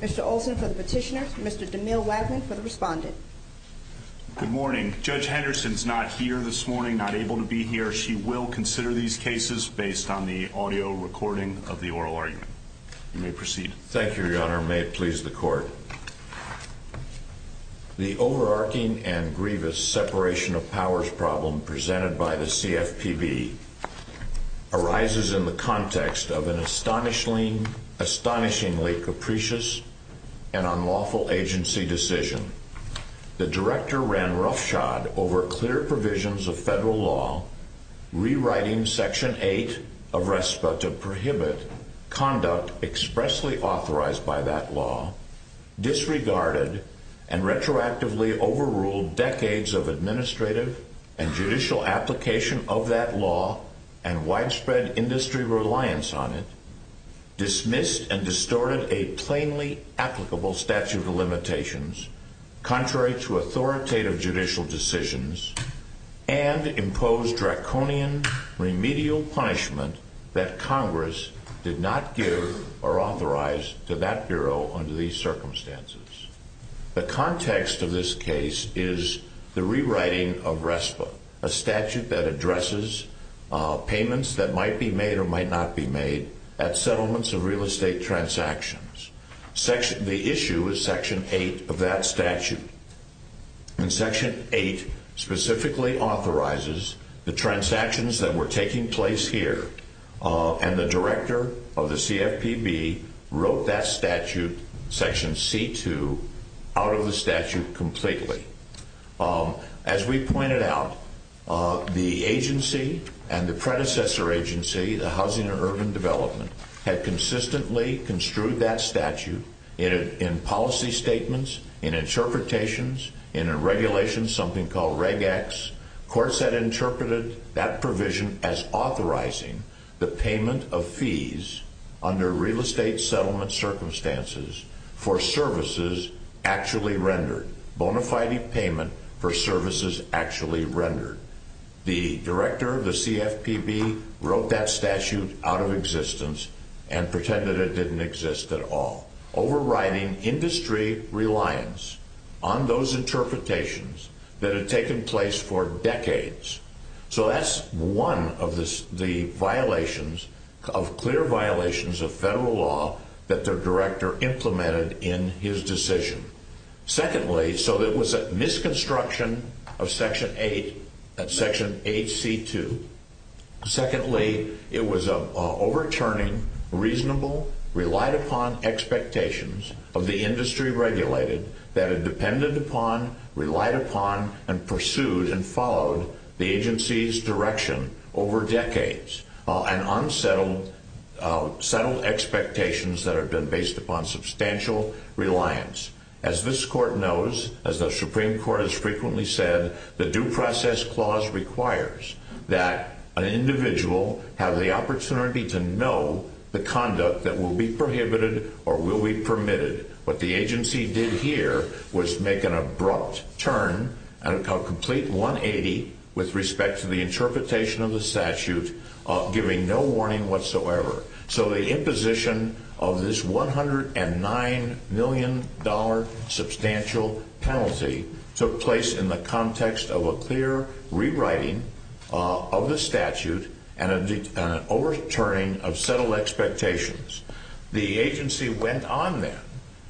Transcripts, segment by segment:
Mr. Olsen for the petitioner, Mr. DeMille Wagner for the respondent. Good morning, Judge Henderson is not here this morning, not able to be here. She will consider these cases based on the audio recording of the oral argument. You may proceed. Thank you, Your Honor. May it please the Court. The overarching and grievous separation of powers problem presented by the CFPB arises in the context of an astonishingly capricious and unlawful agency decision. The director ran roughshod over clear provisions of federal law, rewriting Section 8 of RESPA to prohibit conduct expressly authorized by that law, disregarded and retroactively overruled decades of administrative and judicial application of that law and widespread industry reliance on it, dismissed and distorted a plainly applicable statute of limitations contrary to authoritative judicial decisions, and imposed draconian remedial punishment that Congress did not give or authorize to that Bureau under these circumstances. The context of this case is the rewriting of RESPA, a statute that addresses payments that might be made or might not be made at settlements and real estate transactions. The issue is Section 8 of that statute. Section 8 specifically authorizes the transactions that were taking place here, and the director of the CFPB wrote that statute, Section C-2, out of the statute completely. As we pointed out, the agency and the predecessor agency, the Housing and Urban Development, had consistently construed that statute in policy statements, in interpretations, in a regulation, something called Reg X. Courts had interpreted that provision as authorizing the payment of fees under real estate settlement circumstances for services actually rendered. Bonafide payment for services actually rendered. The director of the CFPB wrote that statute out of existence and pretended it didn't exist at all, overriding industry reliance on those interpretations that had taken place for decades. So that's one of the violations, of clear violations of federal law, that the director implemented in his decision. Secondly, so it was a misconstruction of Section 8, that Section 8C-2. Secondly, it was an overturning reasonable, relied upon expectations of the industry regulated that it depended upon, relied upon, and pursued and followed the agency's direction over decades, and unsettled expectations that have been based upon substantial reliance. As this court knows, as the Supreme Court has frequently said, the Due Process Clause requires that an individual have the opportunity to know the conduct that will be prohibited or will be permitted. What the agency did here was make an abrupt turn, a complete 180 with respect to the interpretation of the statute, giving no warning whatsoever. So the imposition of this $109 million substantial penalty took place in the context of a clear rewriting of the statute and an overturning of settled expectations. The agency went on then,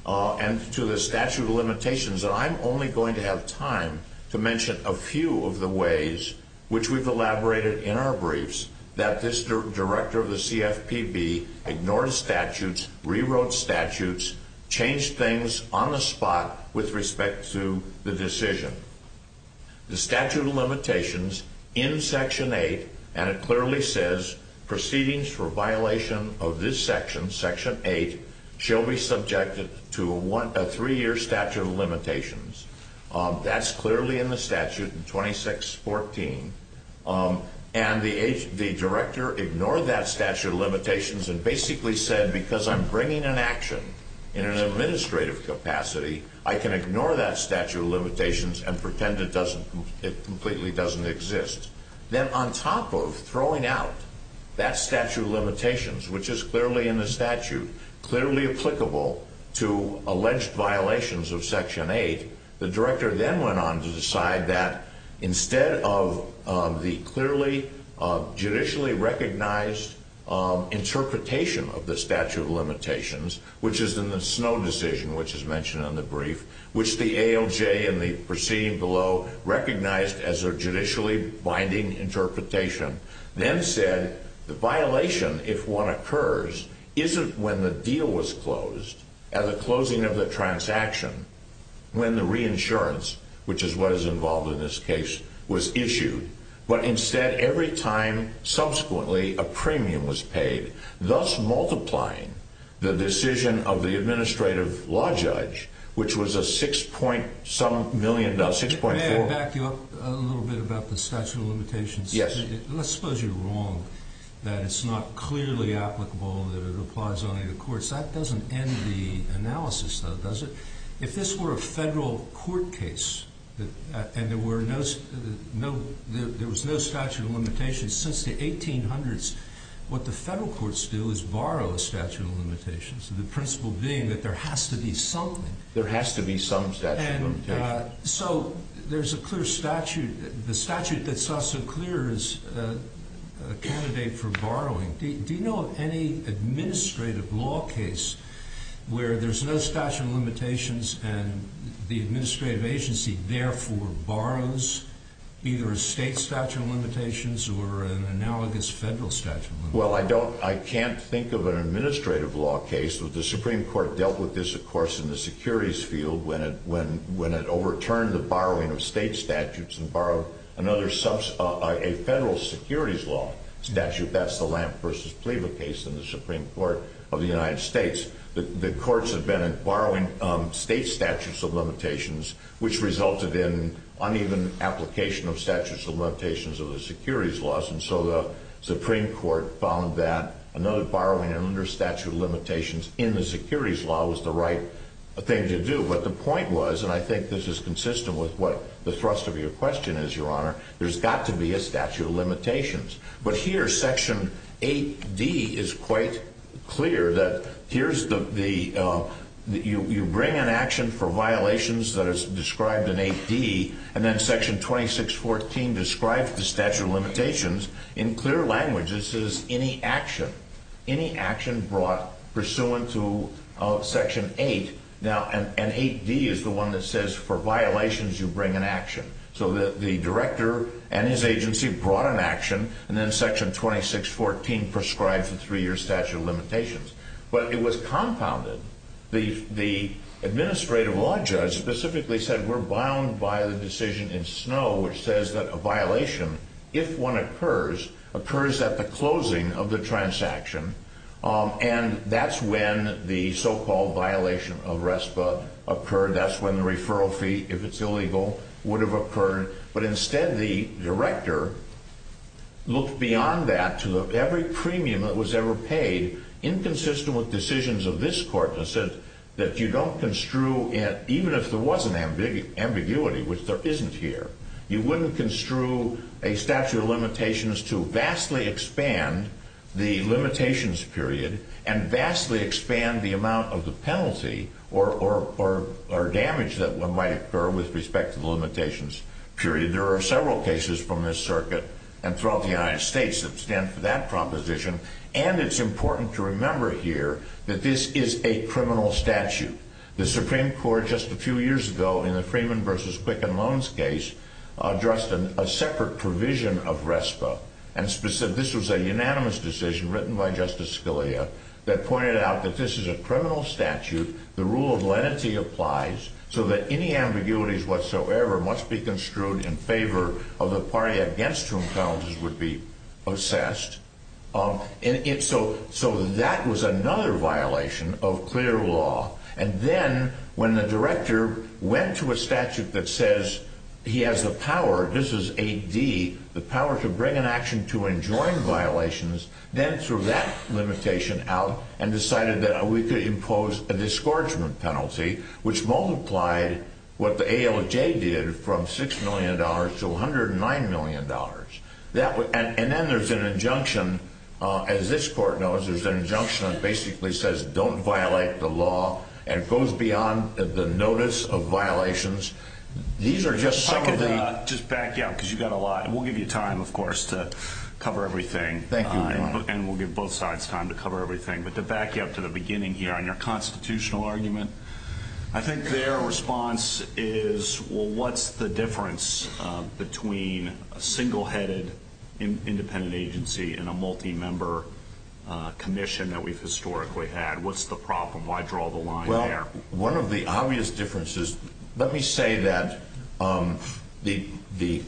and to the statute of limitations, and I'm only going to have time to mention a few of the ways which we've elaborated in our briefs, that this director of the CFPB ignored statutes, rewrote statutes, changed things on the spot with respect to the decision. The statute of limitations in Section 8, and it clearly says proceedings for violation of this section, Section 8, shall be subjected to a three-year statute of limitations. That's clearly in the statute, 2614. And the director ignored that statute of limitations and basically said, because I'm bringing an action in an administrative capacity, I can ignore that statute of limitations and pretend it completely doesn't exist. Then on top of throwing out that statute of limitations, which is clearly in the statute, clearly applicable to alleged violations of Section 8, the director then went on to decide that instead of the clearly judicially recognized interpretation of the statute of limitations, which is in the Snow decision, which is mentioned in the brief, which the ALJ and the proceeding below recognized as a judicially binding interpretation, then said the violation, if one occurs, isn't when the deal was closed, at the closing of the transaction, when the reinsurance, which is what is involved in this case, was issued, but instead, every time subsequently, a premium was paid, thus multiplying the decision of the administrative law judge, which was a 6.7 million, no, 6.4. May I back you up a little bit about the statute of limitations? Yes. Let's suppose you're wrong that it's not clearly applicable and that it applies only to courts. That doesn't end the analysis, though, does it? If this were a federal court case and there was no statute of limitations since the 1800s, what the federal courts do is borrow a statute of limitations, the principle being that there has to be something. There has to be some statute of limitations. So there's a clear statute. The statute that's also clear is a candidate for borrowing. Do you know of any administrative law case where there's no statute of limitations and the administrative agency therefore borrows either a state statute of limitations or an analogous federal statute of limitations? Well, I can't think of an administrative law case. The Supreme Court dealt with this, of course, in the securities field when it overturned the borrowing of state statutes and borrowed a federal securities law statute. That's the Lamp v. Cleaver case in the Supreme Court of the United States. The courts have been borrowing state statutes of limitations, which resulted in uneven application of statutes of limitations of the securities laws. And so the Supreme Court found that another borrowing under statute of limitations in the securities law was the right thing to do. But the point was, and I think this is consistent with what the thrust of your question is, Your Honor, there's got to be a statute of limitations. But here, Section 8D is quite clear that you bring an action for violations that is described in 8D, and then Section 2614 describes the statute of limitations. In clear language, it says any action brought pursuant to Section 8. Now, and 8D is the one that says for violations, you bring an action. So the director and his agency brought an action, and then Section 2614 prescribes a three-year statute of limitations. But it was compounded. The administrative law judge specifically said we're bound by the decision in Snow, which says that a violation, if one occurs, occurs at the closing of the transaction. And that's when the so-called violation of RESPA occurred. That's when the referral fee, if it's illegal, would have occurred. But instead, the director looked beyond that to every premium that was ever paid, inconsistent with decisions of this Court, that says that you don't construe, even if there was an ambiguity, which there isn't here, you wouldn't construe a statute of limitations to vastly expand the limitations period and vastly expand the amount of the penalty or damage that might occur with respect to the limitations period. There are several cases from this circuit and throughout the United States that stand for that proposition. And it's important to remember here that this is a criminal statute. The Supreme Court just a few years ago, in the Freeman v. Wickham loans case, addressed a separate provision of RESPA. And this was a unanimous decision written by Justice Scalia that pointed out that this is a criminal statute, the rule of lenity applies, so that any ambiguities whatsoever must be construed in favor of the party against whom penalties would be assessed. So that was another violation of clear law. And then when the director went to a statute that says he has the power, this is AD, the power to bring an action to enjoin violations, then threw that limitation out and decided that we could impose a discouragement penalty, which multiplied what the ALJ did from $6 million to $109 million. And then there's an injunction, as this court knows, there's an injunction that basically says, don't violate the law and goes beyond the notice of violations. These are just some of the... Let me just back you up because you've got a lot. We'll give you time, of course, to cover everything. Thank you. And we'll give both sides time to cover everything. But to back you up to the beginning here on your constitutional argument, I think their response is, well, what's the difference between a single-headed independent agency and a multi-member commission that we've historically had? What's the problem? Why draw the line there? Well, one of the obvious differences... Let me say that the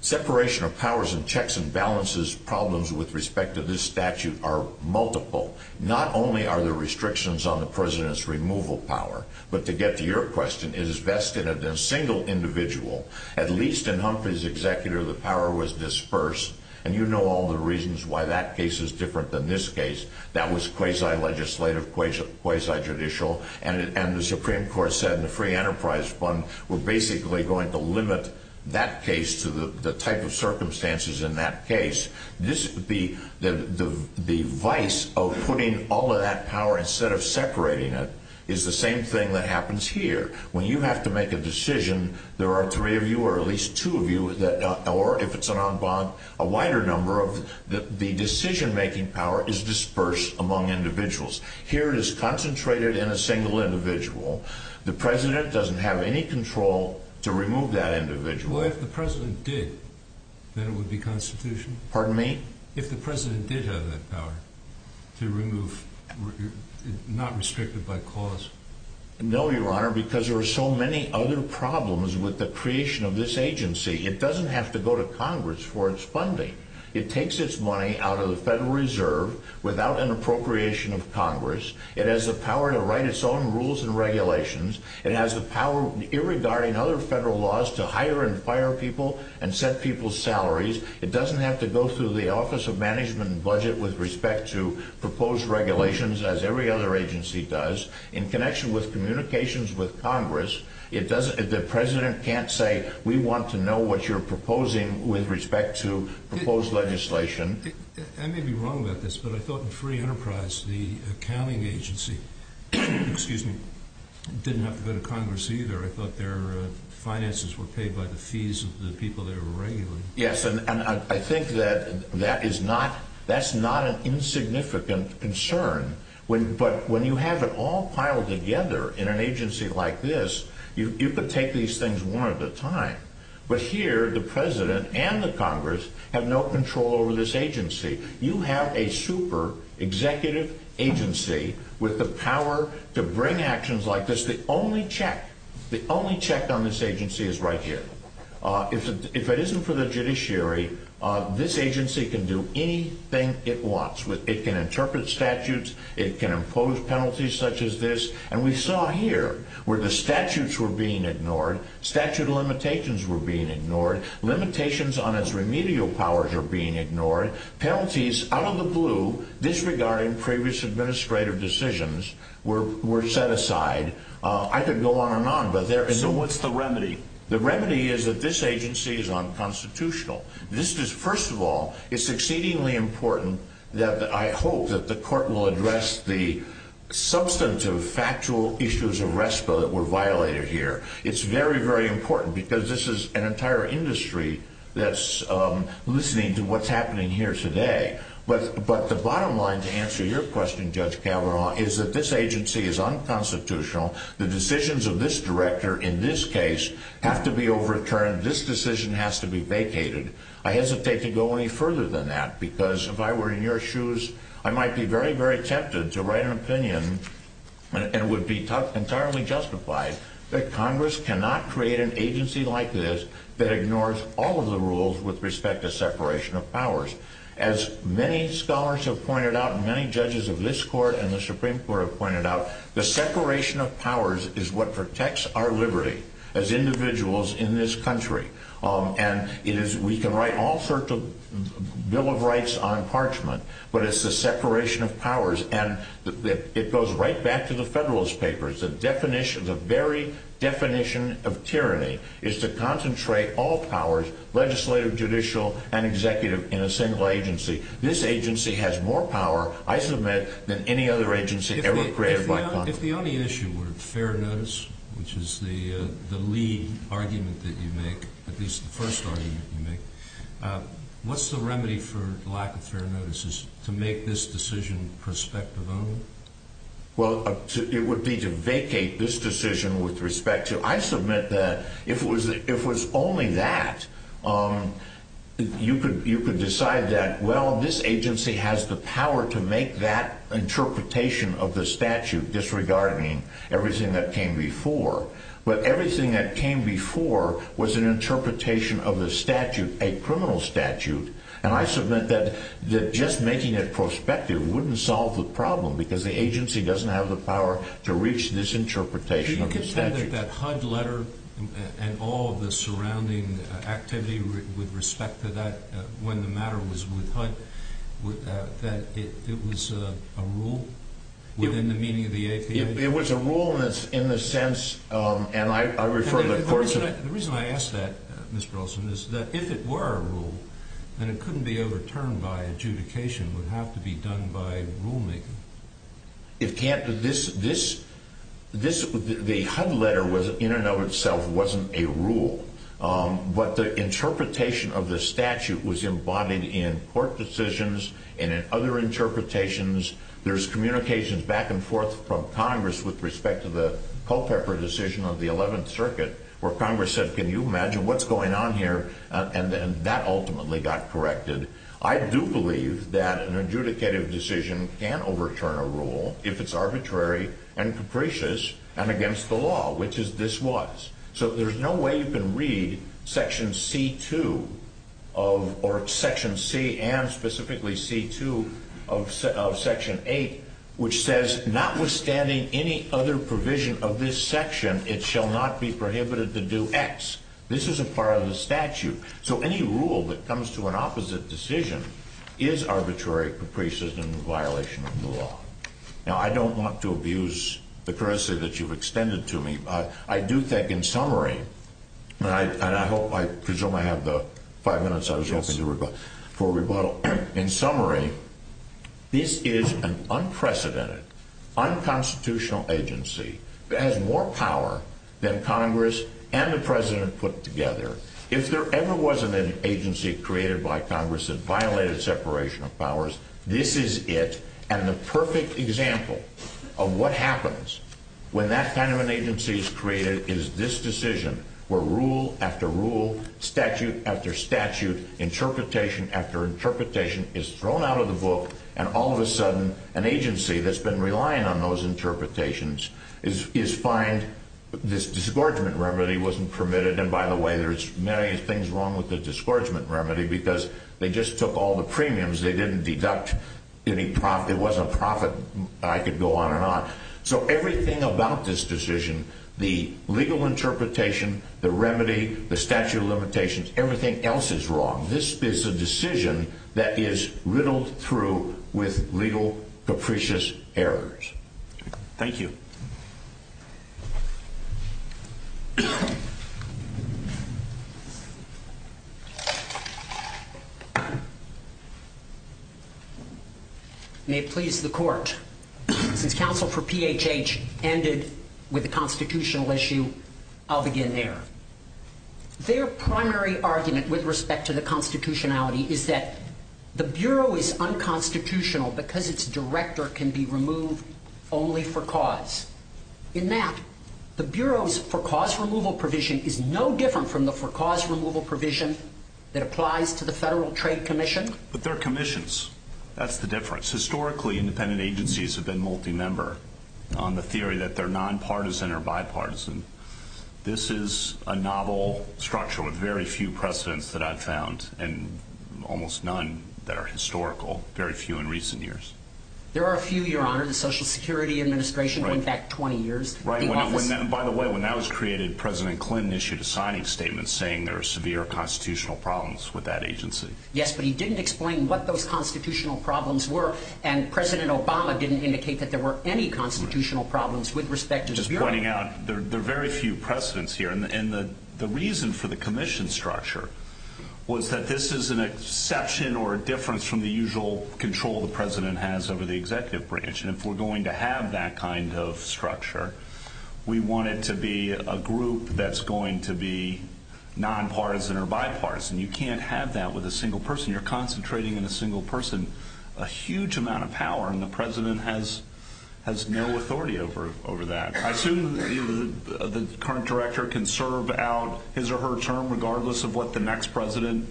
separation of powers and checks and balances problems with respect to this statute are multiple. Not only are there restrictions on the president's removal power, but to get to your question, it is vested in a single individual. At least in Humphrey's executor, the power was dispersed. And you know all the reasons why that case is different than this case. That was quasi-legislative, quasi-judicial. And the Supreme Court said in the Free Enterprise Fund, we're basically going to limit that case to the type of circumstances in that case. The vice of putting all of that power instead of separating it is the same thing that happens here. When you have to make a decision, there are three of you, or at least two of you, or if it's an en banc, a wider number. The decision-making power is dispersed among individuals. Here it is concentrated in a single individual. The president doesn't have any control to remove that individual. Well, if the president did, then it would be constitutional. Pardon me? If the president did have that power to remove, not restricted by cause. No, Your Honor, because there are so many other problems with the creation of this agency. It doesn't have to go to Congress for its funding. It takes its money out of the Federal Reserve without an appropriation of Congress. It has the power to write its own rules and regulations. It has the power, irregarding other federal laws, to hire and fire people and set people's salaries. It doesn't have to go through the Office of Management and Budget with respect to proposed regulations, as every other agency does. In connection with communications with Congress, the president can't say we want to know what you're proposing with respect to proposed legislation. I may be wrong about this, but I thought in free enterprise, the accounting agency did not go to Congress either. I thought their finances were paid by the fees of the people they were regulating. Yes, and I think that that's not an insignificant concern. But when you have it all piled together in an agency like this, you could take these things one at a time. But here, the president and the Congress have no control over this agency. You have a super executive agency with the power to bring actions like this. The only check on this agency is right here. If it isn't for the judiciary, this agency can do anything it wants. It can interpret statutes. It can impose penalties such as this. And we saw here where the statutes were being ignored. Statute limitations were being ignored. Limitations on its remedial powers were being ignored. Penalties, out of the blue, disregarding previous administrative decisions, were set aside. I could go on and on, but there is no what's the remedy. The remedy is that this agency is unconstitutional. First of all, it's exceedingly important that I hope that the court will address the substantive, factual issues of RESPA that were violated here. It's very, very important because this is an entire industry that's listening to what's happening here today. But the bottom line, to answer your question, Judge Calderon, is that this agency is unconstitutional. The decisions of this director in this case have to be overturned. This decision has to be vacated. I hesitate to go any further than that because if I were in your shoes, I might be very, very tempted to write an opinion and would be entirely justified that Congress cannot create an agency like this that ignores all of the rules with respect to separation of powers. As many scholars have pointed out and many judges of this court and the Supreme Court have pointed out, the separation of powers is what protects our liberty as individuals in this country. And we can write all sorts of Bill of Rights on parchment, but it's the separation of powers. And it goes right back to the Federalist Papers. The very definition of tyranny is to concentrate all powers, legislative, judicial, and executive, in a single agency. This agency has more power, I submit, than any other agency ever created by Congress. If the only issue were fair notice, which is the lead argument that you make, at least the first argument you make, what's the remedy for lack of fair notices to make this decision prospective of? Well, it would be to vacate this decision with respect to... I submit that if it was only that, you could decide that, well, this agency has the power to make that interpretation of the statute disregarding everything that came before. But everything that came before was an interpretation of the statute, a criminal statute. And I submit that just making it prospective wouldn't solve the problem, because the agency doesn't have the power to reach this interpretation of the statute. She's looking for that HUD letter and all the surrounding activity with respect to that, when the matter was with HUD, that it was a rule within the meaning of the APA? It was a rule in the sense... The reason I ask that, Mr. Olson, is that if it were a rule, then it couldn't be overturned by adjudication. It would have to be done by rulemaking. It can't. The HUD letter, in and of itself, wasn't a rule. But the interpretation of the statute was embodied in court decisions and in other interpretations. There's communications back and forth from Congress with respect to the Culpeper decision of the 11th Circuit, where Congress said, can you imagine what's going on here? And that ultimately got corrected. I do believe that an adjudicative decision can overturn a rule if it's arbitrary and capricious and against the law, which is this was. So there's no way you can read Section C and specifically C2 of Section 8, which says, notwithstanding any other provision of this section, it shall not be prohibited to do X. This is a part of the statute. So any rule that comes to an opposite decision is arbitrary, capricious, and in violation of the law. Now, I don't want to abuse the courtesy that you've extended to me. I do think, in summary, and I hope, I presume I have the five minutes I was asking for rebuttal. In summary, this is an unprecedented, unconstitutional agency that has more power than Congress and the President put together. If there ever wasn't an agency created by Congress that violated separation of powers, this is it. And the perfect example of what happens when that kind of an agency is created is this decision, where rule after rule, statute after statute, interpretation after interpretation is thrown out of the book, and all of a sudden an agency that's been relying on those interpretations is fined. This disgorgement remedy wasn't permitted. And by the way, there's many things wrong with the disgorgement remedy because they just took all the premiums. They didn't deduct any profit. It wasn't profit. I could go on and on. So everything about this decision, the legal interpretation, the remedy, the statute of limitations, everything else is wrong. This is a decision that is riddled through with legal, capricious errors. Thank you. May it please the court, since counsel for PHH ended with a constitutional issue, I'll begin there. Their primary argument with respect to the constitutionality is that the Bureau is unconstitutional because its director can be removed only for cause. In that, the Bureau's for cause removal provision is no different from the for cause removal provision that applies to the Federal Trade Commission. But they're commissions. That's the difference. Historically, independent agencies have been multi-member on the theory that they're nonpartisan or bipartisan. This is a novel structure with very few precedents that I've found, and almost none that are historical, very few in recent years. There are a few, Your Honor. The Social Security Administration went back 20 years. By the way, when that was created, President Clinton issued a signing statement saying there are severe constitutional problems with that agency. Yes, but he didn't explain what those constitutional problems were, and President Obama didn't indicate that there were any constitutional problems with respect to the Bureau. I'm just pointing out there are very few precedents here. And the reason for the commission structure was that this is an exception or a difference from the usual control the President has over the executive branch. And if we're going to have that kind of structure, we want it to be a group that's going to be nonpartisan or bipartisan. You can't have that with a single person. You're concentrating on a single person, a huge amount of power, and the President has no authority over that. I assume the current director can serve out his or her term regardless of what the next president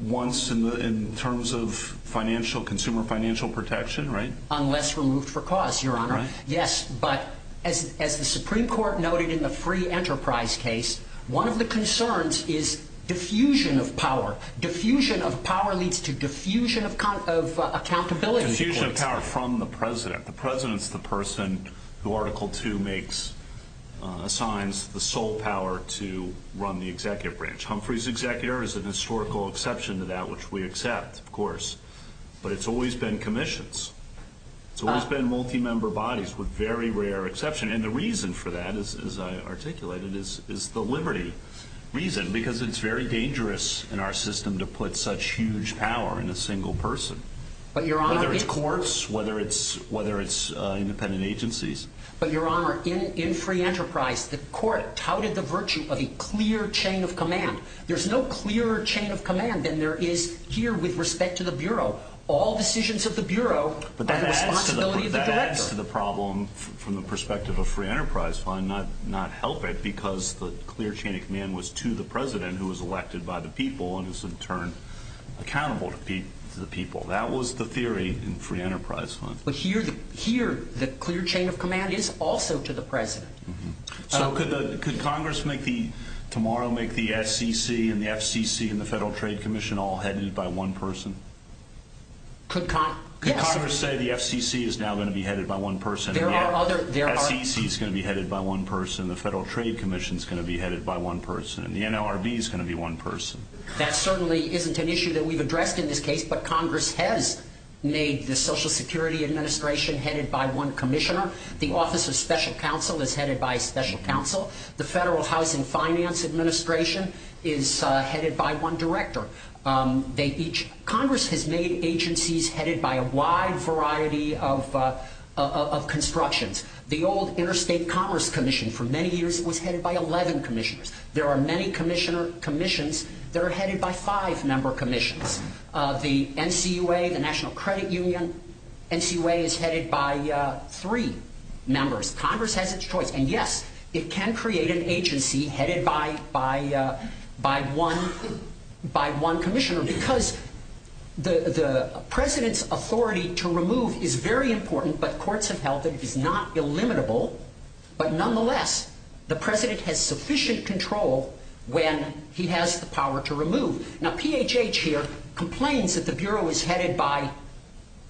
wants in terms of consumer financial protection, right? Unless removed for cause, Your Honor. Right. Yes, but as the Supreme Court noted in the free enterprise case, one of the concerns is diffusion of power. Diffusion of power leads to diffusion of accountability. Diffusion of power from the President. The President is the person who Article II assigns the sole power to run the executive branch. Humphrey's executor is a historical exception to that, which we accept, of course, but it's always been commissions. It's always been multi-member bodies with very rare exception, and the reason for that, as I articulated, is the liberty reason, because it's very dangerous in our system to put such huge power in a single person. But, Your Honor. Whether it's courts, whether it's independent agencies. But, Your Honor, in free enterprise, the court touted the virtue of a clear chain of command. There's no clearer chain of command than there is here with respect to the Bureau. All decisions of the Bureau are the responsibility of the director. But that adds to the problem from the perspective of free enterprise fund, not help it, because the clear chain of command was to the President, who was elected by the people, and was in turn accountable to the people. That was the theory in free enterprise fund. But here, the clear chain of command is also to the President. So, could Congress tomorrow make the FCC and the FCC and the Federal Trade Commission all headed by one person? Could Congress say the FCC is now going to be headed by one person, and the FCC is going to be headed by one person, and the Federal Trade Commission is going to be headed by one person, and the NLRB is going to be one person? That certainly isn't an issue that we've addressed in this case, but Congress has made the Social Security Administration headed by one commissioner. The Office of Special Counsel is headed by a special counsel. The Federal Housing Finance Administration is headed by one director. Congress has made agencies headed by a wide variety of constructions. The old Interstate Commerce Commission, for many years, was headed by 11 commissioners. There are many commissions that are headed by five-member commissions. The NCUA, the National Credit Union, NCUA is headed by three members. Congress has its choice, and yes, it can create an agency headed by one commissioner, because the President's authority to remove is very important, but courts have held that it is not illimitable. But nonetheless, the President has sufficient control when he has the power to remove. Now, PHH here complains that the Bureau is headed by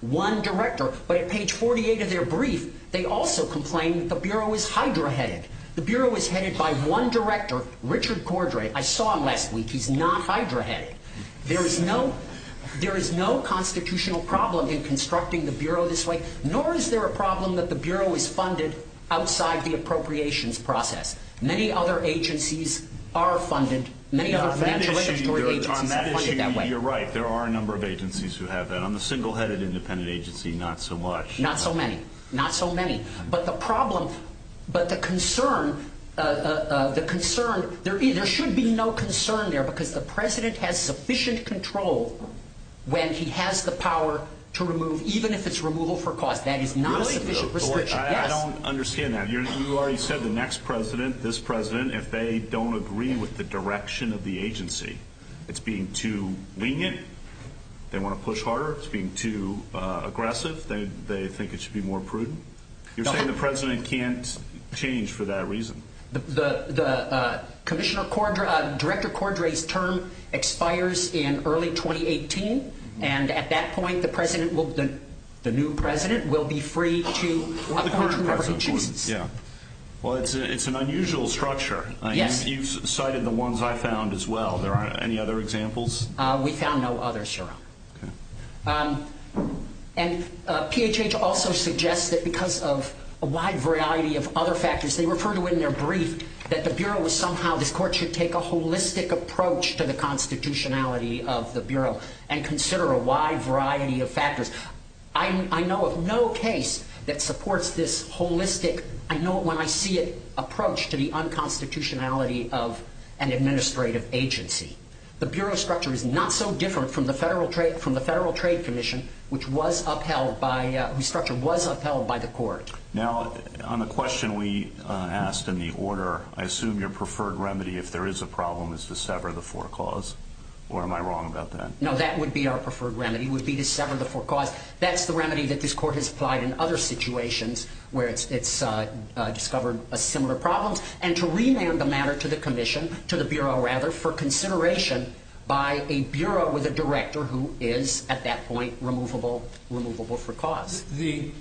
one director, but at page 48 of their brief, they also complain that the Bureau is hydra-headed. The Bureau is headed by one director, Richard Cordray. I saw him last week. He's not hydra-headed. There is no constitutional problem in constructing the Bureau this way, nor is there a problem that the Bureau is funded outside the appropriations process. Many other agencies are funded. On that issue, you're right. There are a number of agencies who have that. On the single-headed independent agency, not so much. Not so many. Not so many. But the concern, there should be no concern there, because the President has sufficient control when he has the power to remove, I don't understand that. You already said the next President, this President, if they don't agree with the direction of the agency, it's being too lenient. They want to push harder. It's being too aggressive. They think it should be more prudent. You're saying the President can't change for that reason? The Director Cordray's term expires in early 2018, and at that point, the new President will be free to appoint whoever he chooses. It's an unusual structure. You cited the ones I found as well. Are there any other examples? We found no others, sir. And PHH also suggests that because of a wide variety of other factors, they refer to in their brief that the Bureau is somehow, the Court should take a holistic approach to the constitutionality of the Bureau, and consider a wide variety of factors. I know of no case that supports this holistic, I know it when I see it, approach to the unconstitutionality of an administrative agency. The Bureau structure is not so different from the Federal Trade Commission, which was upheld by, whose structure was upheld by the Court. Now, on the question we asked in the order, I assume your preferred remedy, if there is a problem, is to sever the foreclause, or am I wrong about that? No, that would be our preferred remedy, would be to sever the foreclause. That's the remedy that this Court has applied in other situations where it's discovered a similar problem, and to relay the matter to the Commission, to the Bureau, rather, for consideration by a Bureau with a Director who is, at that point, removable foreclause. The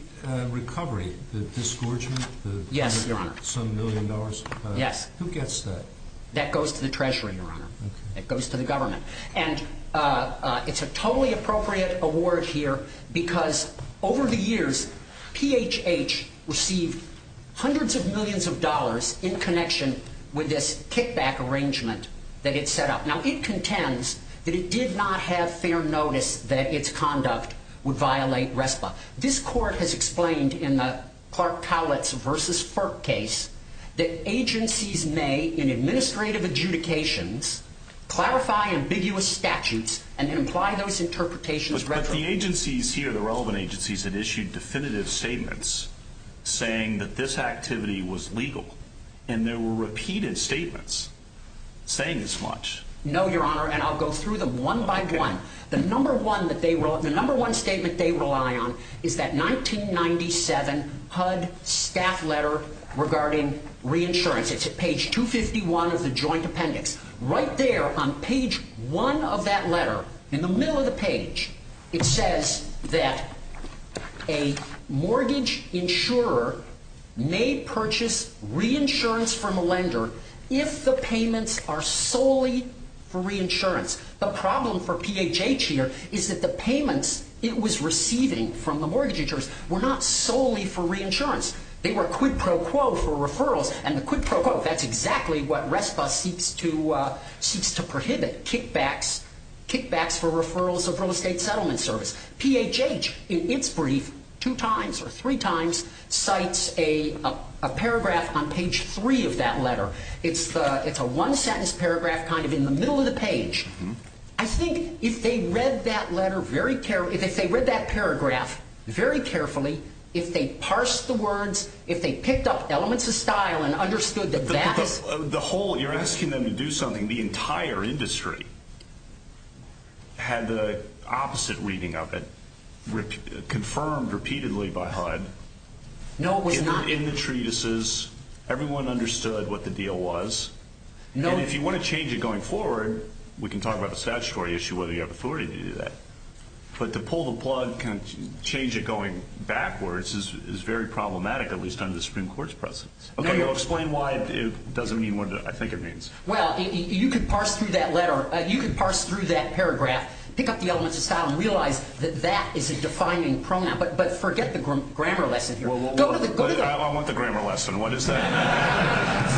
recovery, the disgorgement, some million dollars, who gets that? That goes to the Treasury, Your Honor. That goes to the government. And it's a totally appropriate award here because, over the years, PHH received hundreds of millions of dollars in connection with this kickback arrangement that it set up. Now, it contends that it did not have fair notice that its conduct would violate RESPA. This Court has explained in the Park-Towlitz v. Perk case that agencies may, in administrative adjudications, clarify ambiguous statutes and then apply those interpretations retroactively. But the agencies here, the relevant agencies, have issued definitive statements saying that this activity was legal, and there were repeated statements saying as much. No, Your Honor, and I'll go through them one by one. The number one statement they rely on is that 1997 HUD staff letter regarding reinsurance. It's at page 251 of the joint appendix. Right there on page 1 of that letter, in the middle of the page, it says that a mortgage insurer may purchase reinsurance from a lender if the payments are solely for reinsurance. The problem for PHH here is that the payments it was receiving from the mortgage insurers were not solely for reinsurance. They were quid pro quo for referrals, and the quid pro quo, that's exactly what RESPA seeks to prohibit, kickbacks for referrals of real estate settlement service. PHH, in its brief, two times or three times, cites a paragraph on page 3 of that letter. It's a one-sentence paragraph kind of in the middle of the page. I think if they read that paragraph very carefully, if they parsed the words, if they picked up elements of style and understood the back of it. You're asking them to do something. The entire industry had the opposite reading of it confirmed repeatedly by HUD. In the treatises, everyone understood what the deal was. If you want to change it going forward, we can talk about the statutory issue, whether you have authority to do that. But to pull the plug, change it going backwards is very problematic, at least under the Supreme Court's presence. Okay, explain why it doesn't mean what I think it means. Well, you can parse through that paragraph, pick up the elements of style and realize that that is a defining pronoun. But forget the grammar lesson here. I want the grammar lesson. What is that?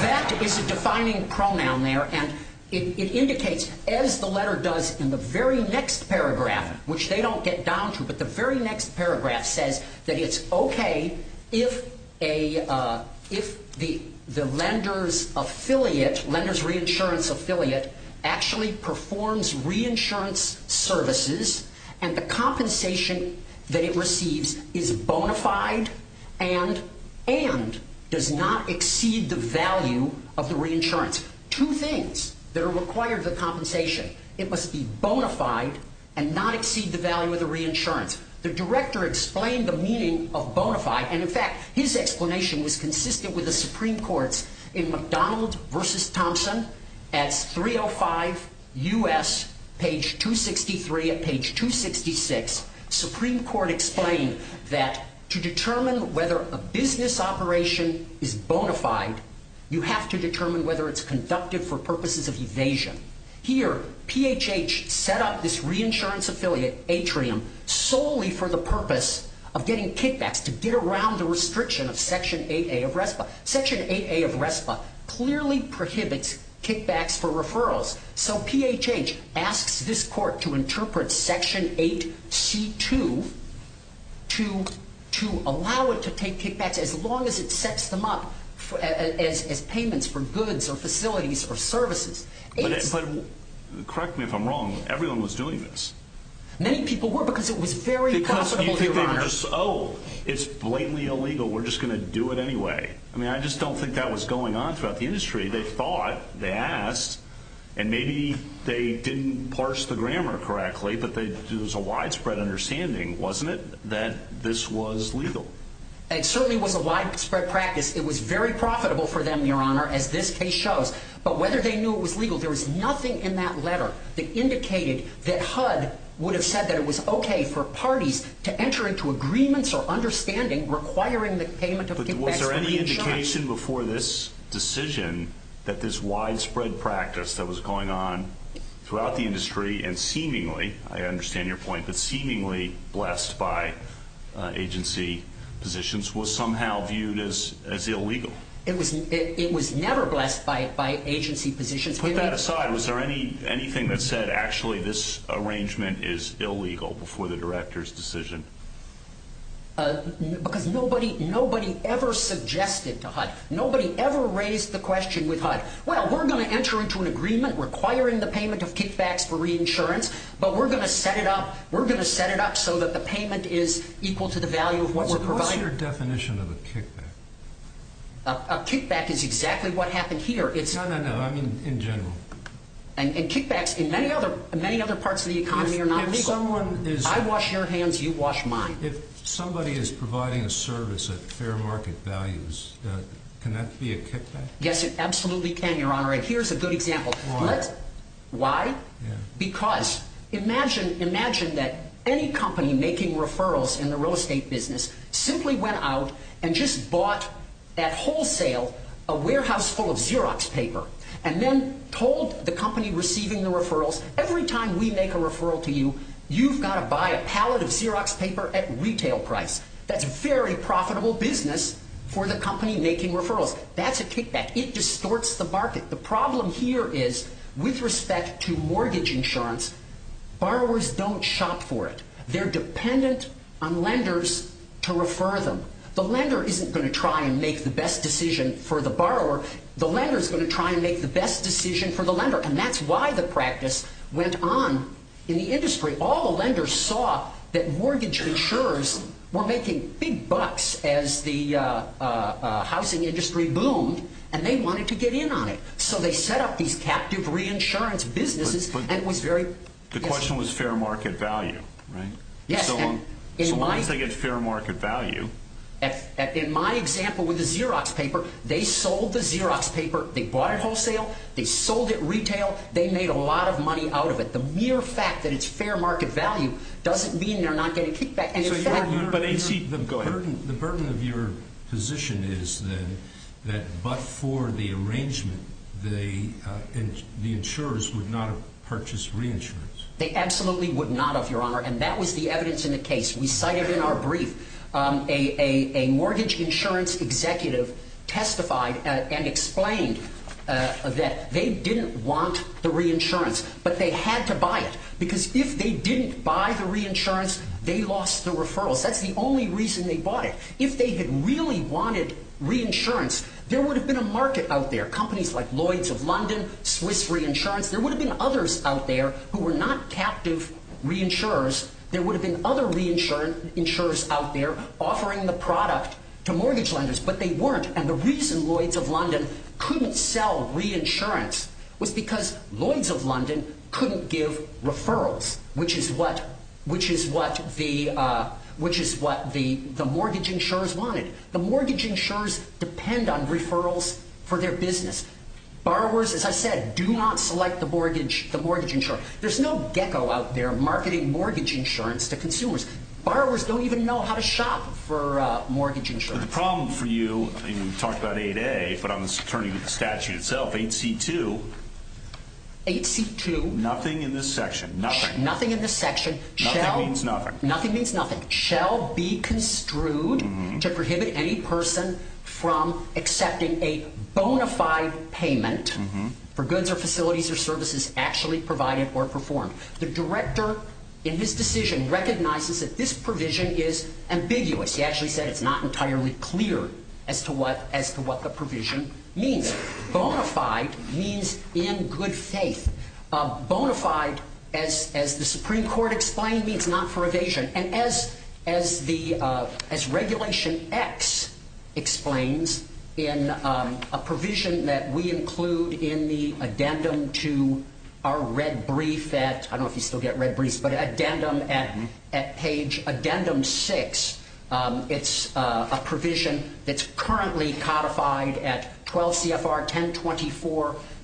That is a defining pronoun there, and it indicates, as the letter does in the very next paragraph, which they don't get down to, but the very next paragraph says that it's okay if the lender's affiliate, lender's reinsurance affiliate, actually performs reinsurance services and the compensation that it receives is bona fide and does not exceed the value of the reinsurance. Two things that are required of the compensation. It must be bona fide and not exceed the value of the reinsurance. The director explained the meaning of bona fide, and in fact, his explanation was consistent with the Supreme Court in McDonald v. Thompson at 305 U.S., page 263 of page 266. Supreme Court explained that to determine whether a business operation is bona fide, you have to determine whether it's conducted for purposes of evasion. Here, PHH set up this reinsurance affiliate atrium solely for the purpose of getting kickbacks to get around the restriction of Section 8A of RESPA. Section 8A of RESPA clearly prohibits kickbacks for referrals, so PHH asks this court to interpret Section 8C2 to allow it to pay kickbacks as long as it sets them up as payments for goods or facilities or services. But correct me if I'm wrong, everyone was doing this. Many people were because it was very possible. Because you think they were just, oh, it's blatantly illegal, we're just going to do it anyway. I mean, I just don't think that was going on throughout the industry. They thought, they asked, and maybe they didn't parse the grammar correctly, but there was a widespread understanding, wasn't it, that this was legal? It certainly was a widespread practice. It was very profitable for them, Your Honor, as this case shows, but whether they knew it was legal, there was nothing in that letter that indicated that HUD would have said that it was okay for parties to enter into agreements or understanding requiring the payment of kickbacks. But was there any indication before this decision that this widespread practice that was going on throughout the industry and seemingly, I understand your point, but seemingly blessed by agency positions was somehow viewed as illegal? It was never blessed by agency positions. Put that aside. Was there anything that said actually this arrangement is illegal before the director's decision? Because nobody ever suggested to HUD. Nobody ever raised the question with HUD, well, we're going to enter into an agreement requiring the payment of kickbacks for reinsurance, but we're going to set it up. We're going to set it up so that the payment is equal to the value of what we're providing. What's your definition of a kickback? A kickback is exactly what happened here. No, no, no, I mean in general. And kickbacks in many other parts of the economy are not legal. I wash your hands, you wash mine. If somebody is providing a service at fair market values, can that be a kickback? Yes, it absolutely can, Your Honor, and here's a good example. Why? Why? Because imagine that any company making referrals in the real estate business simply went out and just bought at wholesale a warehouse full of Xerox paper and then told the company receiving the referrals, every time we make a referral to you, you've got to buy a pallet of Xerox paper at retail price. That's a very profitable business for the company making referrals. That's a kickback. It distorts the market. The problem here is with respect to mortgage insurance, borrowers don't shop for it. They're dependent on lenders to refer them. The lender isn't going to try and make the best decision for the borrower. The lender is going to try and make the best decision for the lender, and that's why the practice went on in the industry. All the lenders saw that mortgage insurers were making big bucks as the housing industry boomed, and they wanted to get in on it. So they set up these captive reinsurance businesses. The question was fair market value, right? Yes. So once they get fair market value. In my example with the Xerox paper, they sold the Xerox paper. They bought it wholesale. They sold it retail. They made a lot of money out of it. The mere fact that it's fair market value doesn't mean they're not getting kickback. The burden of your position is then that but for the arrangement, the insurers would not have purchased reinsurance. They absolutely would not have, Your Honor, and that was the evidence in the case. We cited in our brief a mortgage insurance executive testified and explained that they didn't want the reinsurance, but they had to buy it because they lost the referrals. That's the only reason they bought it. If they had really wanted reinsurance, there would have been a market out there, companies like Lloyd's of London, Swiss Reinsurance. There would have been others out there who were not captive reinsurers. There would have been other reinsurers out there offering the product to mortgage lenders, but they weren't, and the reason Lloyd's of London couldn't sell reinsurance was because Lloyd's of London couldn't give referrals, which is what the mortgage insurers wanted. The mortgage insurers depend on referrals for their business. Borrowers, as I said, do not select the mortgage insurer. There's no gecko out there marketing mortgage insurance to consumers. Borrowers don't even know how to shop for mortgage insurance. The problem for you, you talked about 8A, but on the statute itself, 8C2. 8C2? Nothing in this section, nothing. Nothing in this section shall be construed to prohibit any person from accepting a bona fide payment for goods or facilities or services actually provided or performed. The director, in his decision, recognizes that this provision is ambiguous. He actually said it's not entirely clear as to what the provision means. Bona fide means in good faith. Bona fide, as the Supreme Court explained, means not for evasion, and as Regulation X explains in a provision that we include in the addendum to our red brief that, I don't know if you still get red briefs, but addendum at page addendum 6, it's a provision that's currently codified at 12 CFR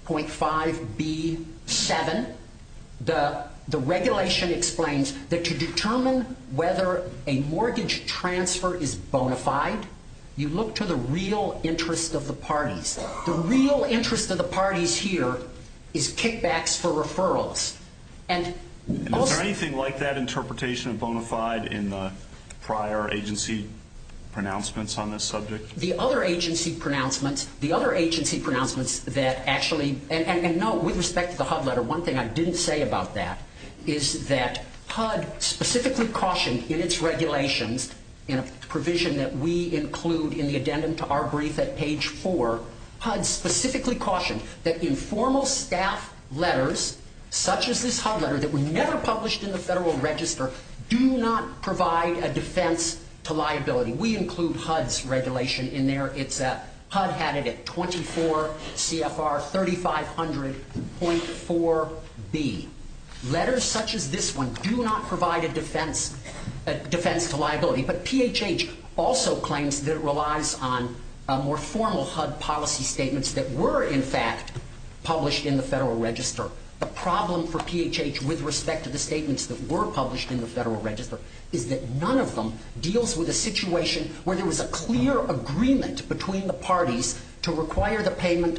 1024.5B7. The regulation explains that to determine whether a mortgage transfer is bona fide, you look to the real interest of the parties. The real interest of the parties here is kickbacks for referrals. Is there anything like that interpretation of bona fide in the prior agency pronouncements on this subject? The other agency pronouncements that actually, and no, with respect to the HUD letter, one thing I didn't say about that is that HUD specifically cautioned in its regulations in a provision that we include in the addendum to our brief at page 4, HUD specifically cautioned that informal staff letters, such as this HUD letter that were never published in the Federal Register, do not provide a defense to liability. We include HUD's regulation in there. HUD had it at 24 CFR 3500.4B. Letters such as this one do not provide a defense to liability, but PHH also claims that it relies on more formal HUD policy statements that were, in fact, published in the Federal Register. The problem for PHH with respect to the statements that were published in the Federal Register is that none of them deals with a situation where there was a clear agreement between the parties to require the payment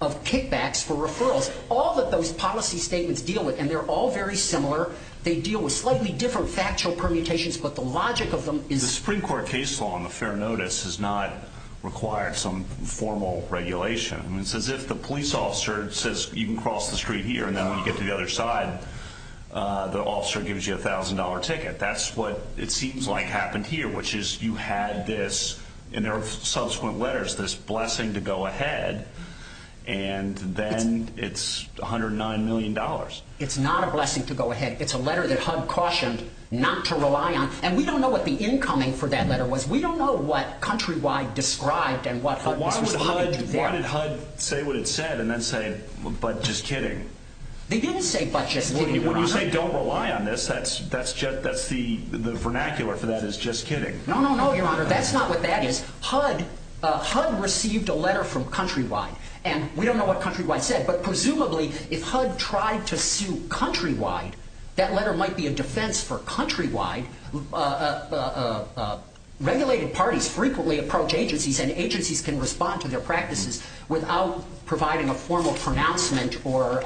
of kickbacks for referrals. All of those policy statements deal with, and they're all very similar, they deal with slightly different factual permutations, but the logic of them is... The Supreme Court case law on the fair notice does not require some formal regulation. It's as if the police officer says you can cross the street here and then when you get to the other side, the officer gives you a $1,000 ticket. That's what it seems like happened here, which is you had this, and there are subsequent letters, this blessing to go ahead, and then it's $109 million. It's not a blessing to go ahead. It's a letter that HUD cautioned not to rely on, and we don't know what the incoming for that letter was. We don't know what Countrywide described and what HUD did there. They didn't say, but just kidding. They didn't say, but just kidding. When you say don't rely on this, that's the vernacular for that is just kidding. No, no, no, Your Honor. That's not what that is. HUD received a letter from Countrywide, and we don't know what Countrywide said, but presumably if HUD tried to sue Countrywide, that letter might be a defense for Countrywide. Regulated parties frequently approach agencies, and agencies can respond to their practices without providing a formal pronouncement or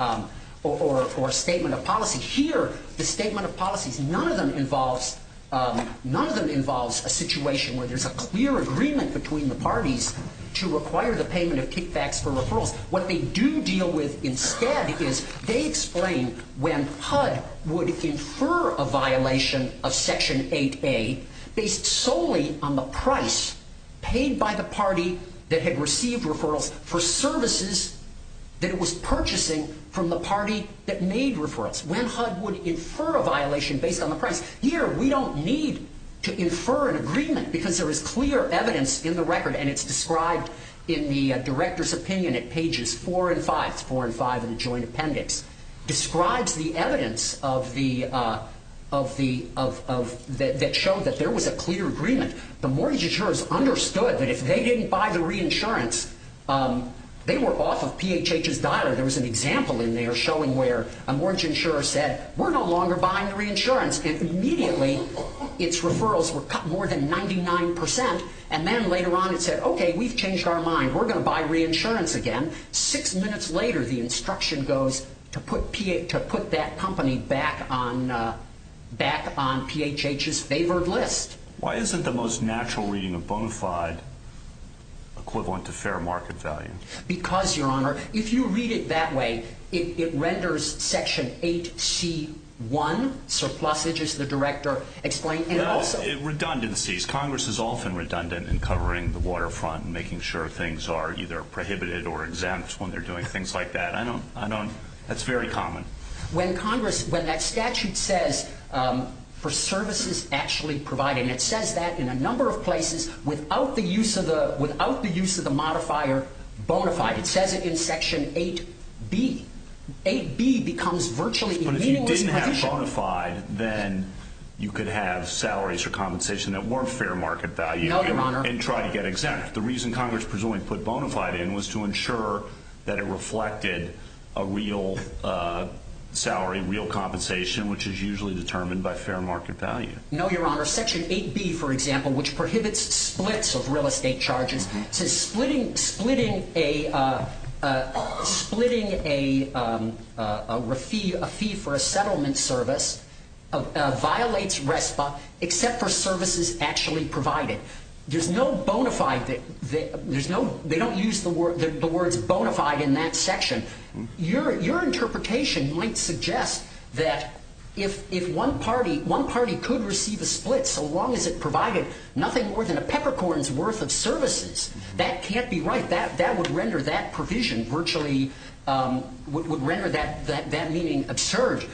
statement of policy. Here, the statement of policy, none of them involves a situation where there's a clear agreement between the parties to require the payment of kickbacks for referral. What they do deal with instead is they explain when HUD would infer a violation based solely on the price paid by the party that had received referrals for services that it was purchasing from the party that made referrals. When HUD would infer a violation based on the price. Here, we don't need to infer an agreement, because there is clear evidence in the record, and it's described in the director's opinion at pages four and five. It's four and five in the joint appendix. It describes the evidence that showed that there was a clear agreement. The mortgage insurers understood that if they didn't buy the reinsurance, they were off of PHH's data. There was an example in there showing where a mortgage insurer said, we're no longer buying the reinsurance, and immediately its referrals were cut more than 99%, and then later on it said, okay, we've changed our mind. We're going to buy reinsurance again. Six minutes later, the instruction goes to put that company back on PHH's favored list. Why isn't the most natural reading of bone five equivalent to fair market value? Because, Your Honor, if you read it that way, it renders section 8C1. Sir Flossage is the director. Explain. Redundancies. Congress is often redundant in covering the waterfront and making sure things are either prohibited or exempt when they're doing things like that. That's very common. When that statute says for services actually provided, and it says that in a number of places, without the use of the modifier bonafide, it says it in section 8B. 8B becomes virtually immutable. But if you didn't have bonafide, then you could have salaries or compensation that weren't fair market value and try to get exempt. The reason Congress presumably put bonafide in was to ensure that it reflected a real salary, real compensation, which is usually determined by fair market value. No, Your Honor. Section 8B, for example, which prohibits splits of real estate charges, says splitting a fee for a settlement service violates RESPA except for services actually provided. There's no bonafide. They don't use the words bonafide in that section. Your interpretation might suggest that if one party could receive a split so long as it provided nothing more than a peppercorn's worth of services, that can't be right. That would render that provision virtually, would render that meaning absurd.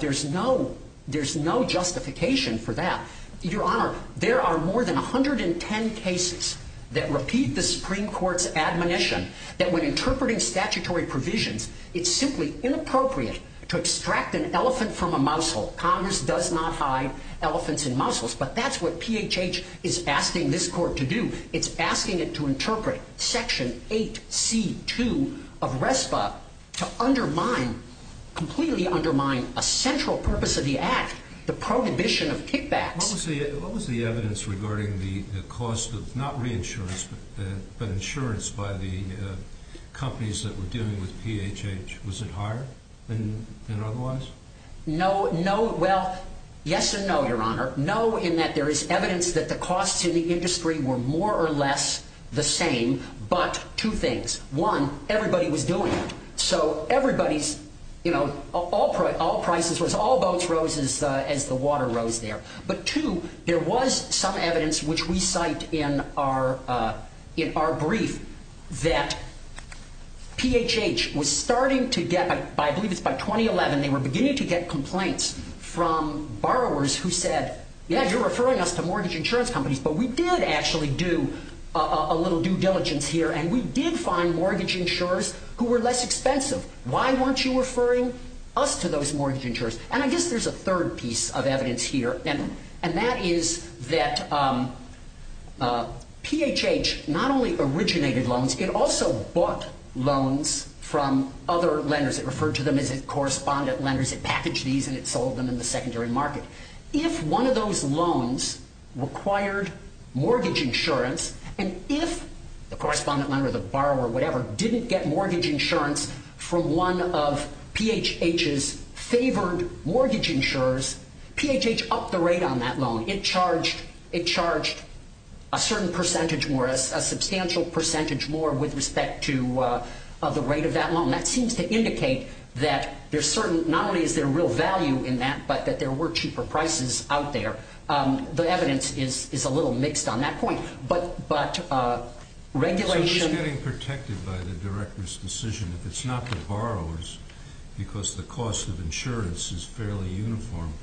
There's no justification for that. Your Honor, there are more than 110 cases that repeat the Supreme Court's admonition that when interpreting statutory provisions, it's simply inappropriate to extract an elephant from a mousetrap. Congress does not hide elephants and mousetraps, but that's what PHH is asking this court to do. It's asking it to interpret Section 8C2 of RESPA to undermine, completely undermine a central purpose of the act, the prohibition of kickbacks. What was the evidence regarding the cost of not re-insurance, but insurance by the companies that were dealing with PHH? Was it higher than other ones? No. Well, yes and no, Your Honor. No, in that there is evidence that the costs in the industry were more or less the same, but two things. One, everybody was doing it. So everybody's, you know, all prices, all boats rose as the water rose there. But two, there was some evidence, which we cite in our brief, that PHH was starting to get, I believe it's by 2011, they were beginning to get complaints from borrowers who said, yeah, you're referring us to mortgage insurance companies, but we did actually do a little due diligence here, and we did find mortgage insurers who were less expensive. Why weren't you referring us to those mortgage insurers? And I guess there's a third piece of evidence here, and that is that PHH not only originated loans, it also bought loans from other lenders. It referred to them as its correspondent lenders. It packaged these and it sold them in the secondary market. If one of those loans required mortgage insurance, and if the correspondent lender, the borrower, whatever, didn't get mortgage insurance from one of PHH's favored mortgage insurers, PHH upped the rate on that loan. It charged a certain percentage more, a substantial percentage more with respect to the rate of that loan. That seems to indicate that there's certain, not only is there real value in that, but that there were cheaper prices out there. The evidence is a little mixed on that point. But regulation... Who's getting protected by the director's decision? If it's not the borrowers, because the cost of insurance is fairly uniform,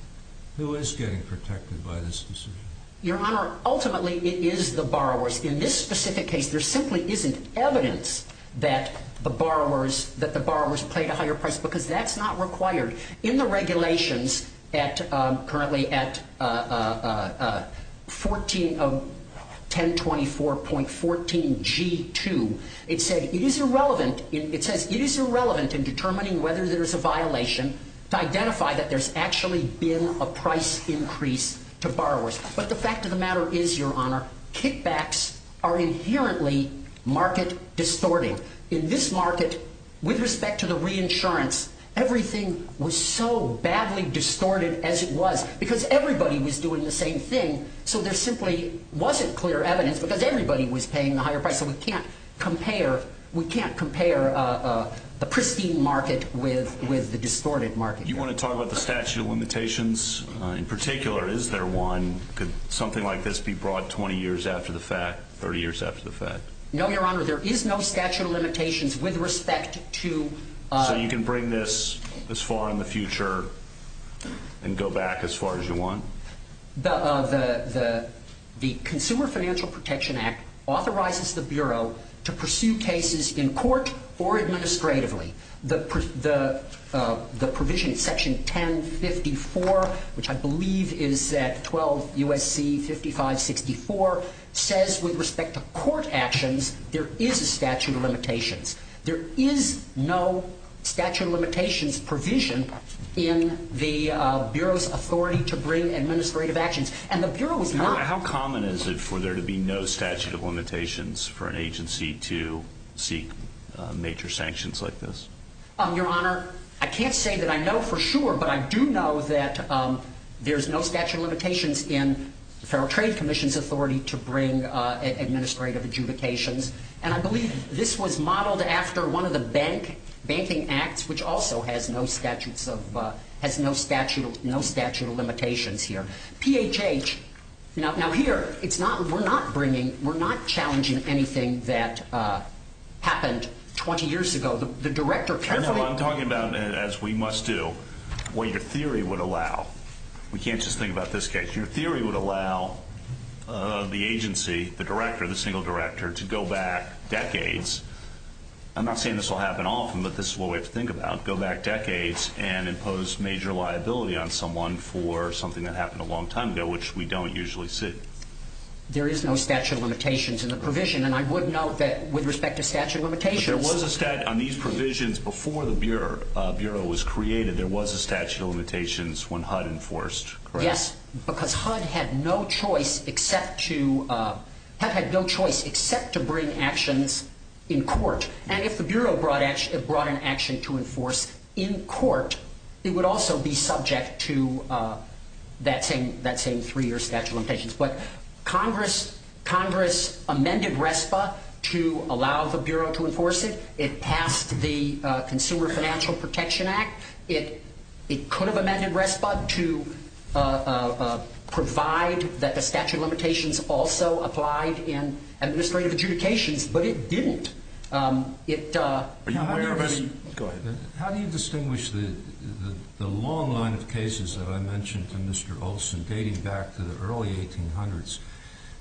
who is getting protected by this decision? Your Honor, ultimately it is the borrowers. In this specific case, there simply isn't evidence that the borrowers paid a higher price because that's not required. In the regulations, currently at 1024.14G2, it says it is irrelevant in determining whether there's a violation to identify that there's actually been a price increase to borrowers. But the fact of the matter is, Your Honor, kickbacks are inherently market distorting. In this market, with respect to the reinsurance, everything was so badly distorted as it was because everybody was doing the same thing. So there simply wasn't clear evidence because everybody was paying a higher price. So we can't compare a pristine market with the distorted market. Do you want to talk about the statute of limitations in particular? Is there one? Could something like this be brought 20 years after the fact, 30 years after the fact? No, Your Honor, there is no statute of limitations with respect to... So you can bring this as far in the future and go back as far as you want? The Consumer Financial Protection Act authorizes the Bureau to pursue cases in court or administratively. The provision in Section 1054, which I believe is at 12 U.S.C. 5564, says with respect to court actions, there is a statute of limitations. There is no statute of limitations provision in the Bureau's authority to bring administrative actions. And the Bureau's work... How common is it for there to be no statute of limitations for an agency to seek major sanctions like this? Your Honor, I can't say that I know for sure, but I do know that there's no statute of limitations in the Federal Trade Commission's authority to bring administrative adjudications. And I believe this was modeled after one of the banking acts, which also has no statute of limitations here. PHH... Now here, we're not challenging anything that happened 20 years ago. The Director can't... I know, I'm talking about, as we must do, what your theory would allow. We can't just think about this case. Your theory would allow the agency, the Director, the single Director, to go back decades. I'm not saying this will happen often, but this is one way to think about it. Go back decades and impose major liability on someone for something that happened a long time ago, which we don't usually see. There is no statute of limitations in the provision, and I would note that with respect to statute of limitations... There was a statute... I mean, provisions before the Bureau was created, there was a statute of limitations when HUD enforced. Yes, because HUD had no choice except to... HUD had no choice except to bring actions in court. And if the Bureau brought an action to enforce in court, it would also be subject to that same three-year statute of limitations. But Congress amended RESPA to allow the Bureau to enforce it. It passed the Consumer Financial Protection Act. It could have amended RESPA to provide that the statute of limitations also applied in administrative adjudications, but it didn't. How do you distinguish the long line of cases that I mentioned to Mr. Olson dating back to the early 1800s,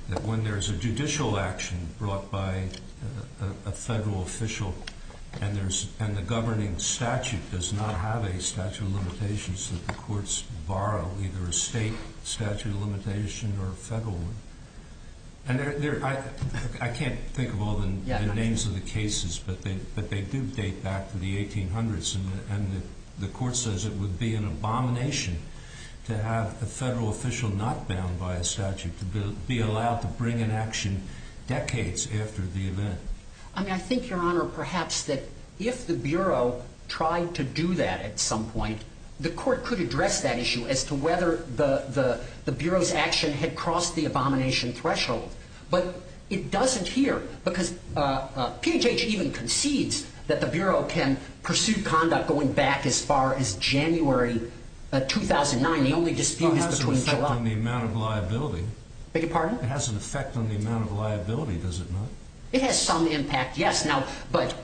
that when there's a judicial action brought by a federal official and the governing statute does not have a statute of limitations that the courts borrow either a state statute of limitation or a federal one? I can't think of all the names of the cases, but they do date back to the 1800s, and the court says it would be an abomination to have a federal official not bound by a statute to be allowed to bring an action decades after the event. I think, Your Honor, perhaps that if the Bureau tried to do that at some point, the court could address that issue as to whether the Bureau's action had crossed the abomination threshold. But it doesn't here, because P&H even concedes that the Bureau can pursue conduct going back as far as January 2009. They only dispute that between July. It has an effect on the amount of liability, does it not? It has some impact, yes. But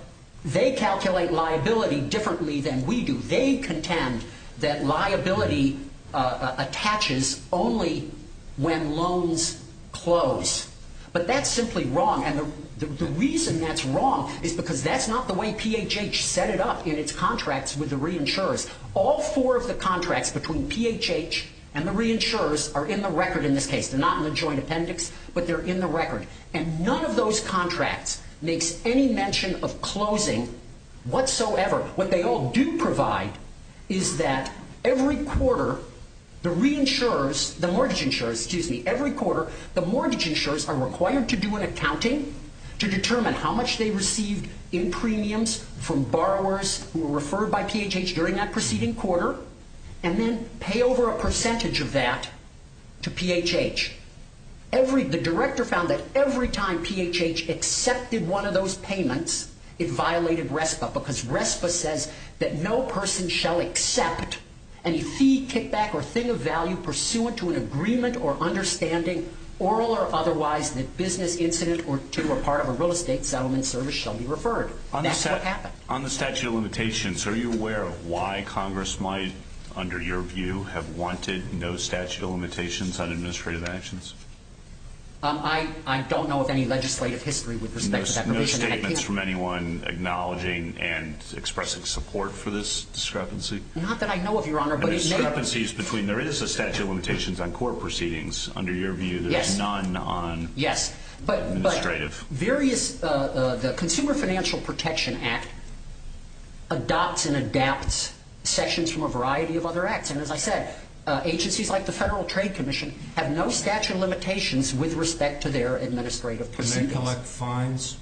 they calculate liability differently than we do. They contend that liability attaches only when loans close. But that's simply wrong, and the reason that's wrong is because that's not the way P&H set it up in its contracts with the reinsurers. All four of the contracts between P&H and the reinsurers are in the record in this case. They're not in the joint appendix, but they're in the record. And none of those contracts makes any mention of closing whatsoever. However, what they all do provide is that every quarter, the mortgage insurers are required to do an accounting to determine how much they received in premiums from borrowers who were referred by P&H during that preceding quarter, and then pay over a percentage of that to P&H. The director found that every time P&H accepted one of those payments, it violated RESPA because RESPA said that no person shall accept any fee, kickback, or thing of value pursuant to an agreement or understanding, oral or otherwise, that business, incident, or to or part of a real estate settlement service shall be referred. That's what happened. On the statute of limitations, are you aware of why Congress might, under your view, have wanted no statute of limitations on administrative actions? I don't know of any legislative history with respect to that. There are no statements from anyone acknowledging and expressing support for this discrepancy? Not that I know of, Your Honor. There is a statute of limitations on court proceedings. Under your view, there's none on administrative. The Consumer Financial Protection Act adopts and adapts sections from a variety of other acts. And as I said, agencies like the Federal Trade Commission have no statute of limitations with respect to their administrative proceedings. Can they collect fines?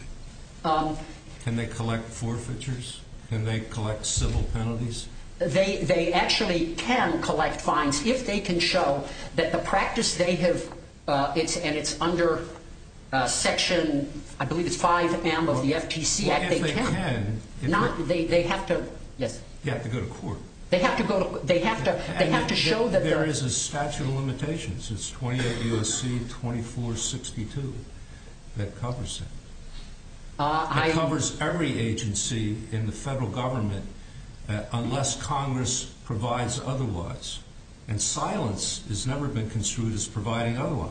Can they collect forfeitures? Can they collect civil penalties? They actually can collect fines if they can show that the practice they have and it's under Section, I believe it's 5M of the FTC Act. They can. They have to. They have to go to court. They have to go to court. They have to show that they're. There is a statute of limitations. It's 28 U.S.C. 2462 that covers it. It covers every agency in the federal government unless Congress provides otherwise. And silence has never been construed as providing otherwise.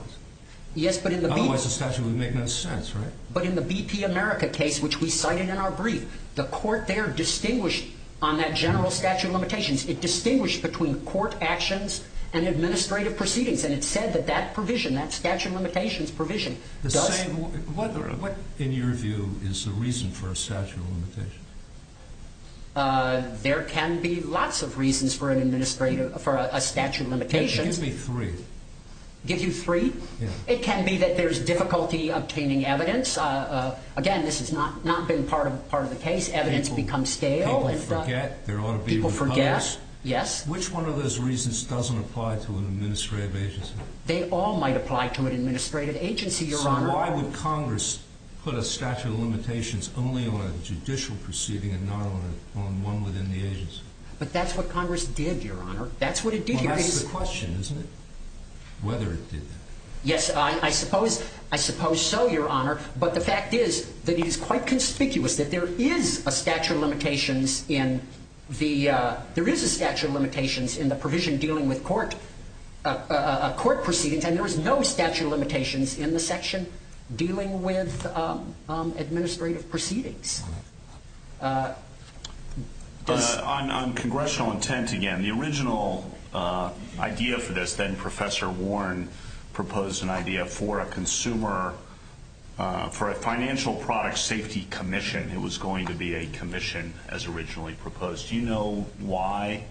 Otherwise the statute would make no sense, right? But in the BP America case, which we cited in our brief, the court there distinguished on that general statute of limitations, it distinguished between court actions and administrative proceedings, and it said that that provision, that statute of limitations provision does. What, in your view, is the reason for a statute of limitations? There can be lots of reasons for a statute of limitations. Give me three. Give you three? Yeah. It can be that there's difficulty obtaining evidence. Again, this has not been part of the case. Evidence becomes stale. People forget. People forget. Yes. Which one of those reasons doesn't apply to an administrative agency? They all might apply to an administrative agency, Your Honor. So why would Congress put a statute of limitations only on a judicial proceeding and not on one within the agency? But that's what Congress did, Your Honor. That's what it did. That's the question, isn't it? Whether it did. Yes. I suppose so, Your Honor. But the fact is that it is quite conspicuous that there is a statute of limitations in the provision dealing with court proceedings, and there is no statute of limitations in the section dealing with administrative proceedings. On congressional intent again, the original idea for this, then Professor Warren proposed an idea for a consumer, for a financial product safety commission. It was going to be a commission as originally proposed. Do you know why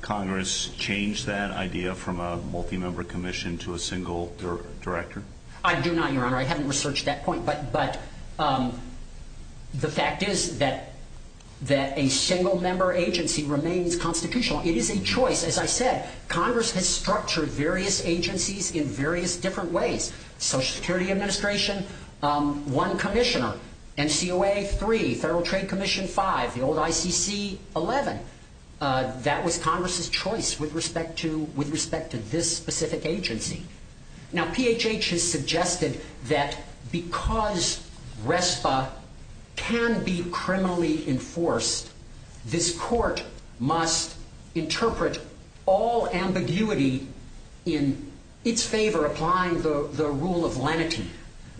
Congress changed that idea from a multi-member commission to a single director? I do not, Your Honor. I haven't researched that point. But the fact is that a single-member agency remains constitutional. It is a choice. As I said, Congress has structured various agencies in various different ways. Social Security Administration, one commissioner. NCOA, three. Federal Trade Commission, five. The old ICC, 11. That was Congress's choice with respect to this specific agency. Now, PHH has suggested that because RESPA can be criminally enforced, this court must interpret all ambiguity in its favor applying the rule of lenity.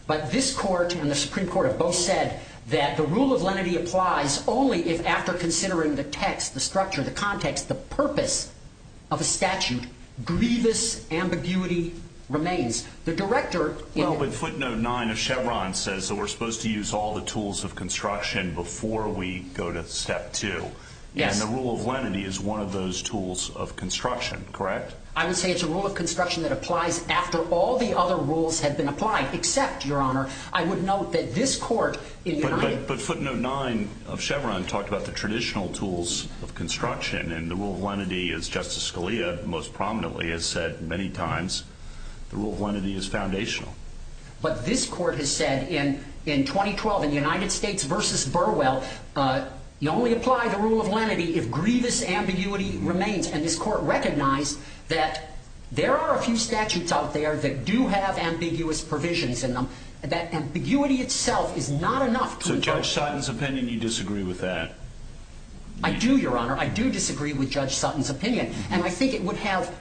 But this court and the Supreme Court have both said that the rule of lenity applies only if after considering the text, the structure, the context, the purpose of a statute, grievous ambiguity remains. The director... Well, but footnote 9 of Chevron says that we're supposed to use all the tools of construction before we go to step 2. And the rule of lenity is one of those tools of construction, correct? I would say it's a rule of construction that applies after all the other rules have been applied, except, Your Honor, I would note that this court... But footnote 9 of Chevron talked about the traditional tools of construction, and the rule of lenity, as Justice Scalia most prominently has said many times, the rule of lenity is foundational. But this court has said in 2012 in United States v. Burwell, you only apply the rule of lenity if grievous ambiguity remains. And this court recognized that there are a few statutes out there that do have ambiguous provisions in them, that ambiguity itself is not enough to... So Judge Sutton's opinion, you disagree with that? I do, Your Honor, I do disagree with Judge Sutton's opinion. And I think it would have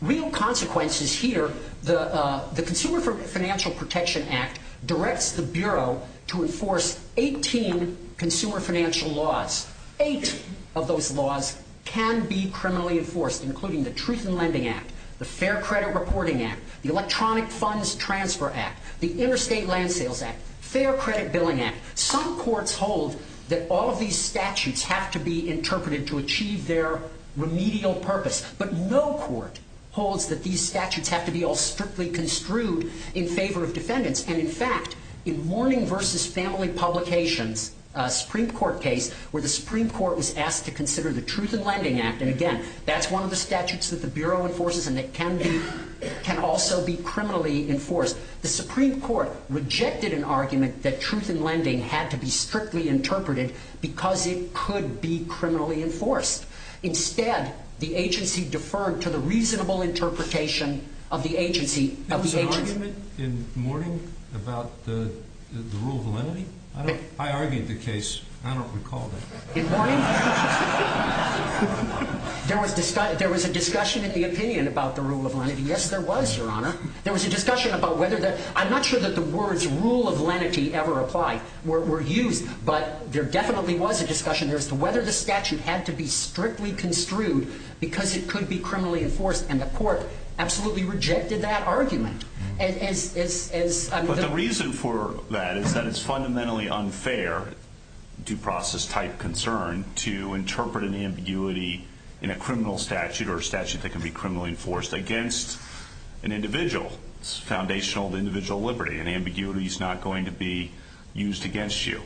real consequences here. The Consumer Financial Protection Act directs the Bureau to enforce 18 consumer financial laws. Eight of those laws can be criminally enforced, including the Truth in Lending Act, the Fair Credit Reporting Act, the Electronic Funds Transfer Act, the Interstate Land Sales Act, Fair Credit Billing Act. Some courts hold that all of these statutes have to be interpreted to achieve their remedial purpose, but no court holds that these statutes have to be all strictly construed in favor of defendants. And, in fact, in Warning v. Family Publications, a Supreme Court case, where the Supreme Court was asked to consider the Truth in Lending Act, and, again, that's one of the statutes that the Bureau enforces, and it can also be criminally enforced. The Supreme Court rejected an argument that Truth in Lending had to be strictly interpreted because it could be criminally enforced. Instead, the agency deferred to the reasonable interpretation of the agency... There was an argument in Warning about the rule of validity? I argued the case, but I don't recall it. In Warning, there was a discussion in the opinion about the rule of validity. Yes, there was, Your Honor. There was a discussion about whether the... I'm not sure that the words, rule of lenity, ever applied. Were used, but there definitely was a discussion as to whether the statute had to be strictly construed because it could be criminally enforced, and the court absolutely rejected that argument. But the reason for that is that it's fundamentally unfair, due process-type concern, to interpret an ambiguity in a criminal statute or a statute that can be criminally enforced against an individual's foundational individual liberty. An ambiguity is not going to be used against you.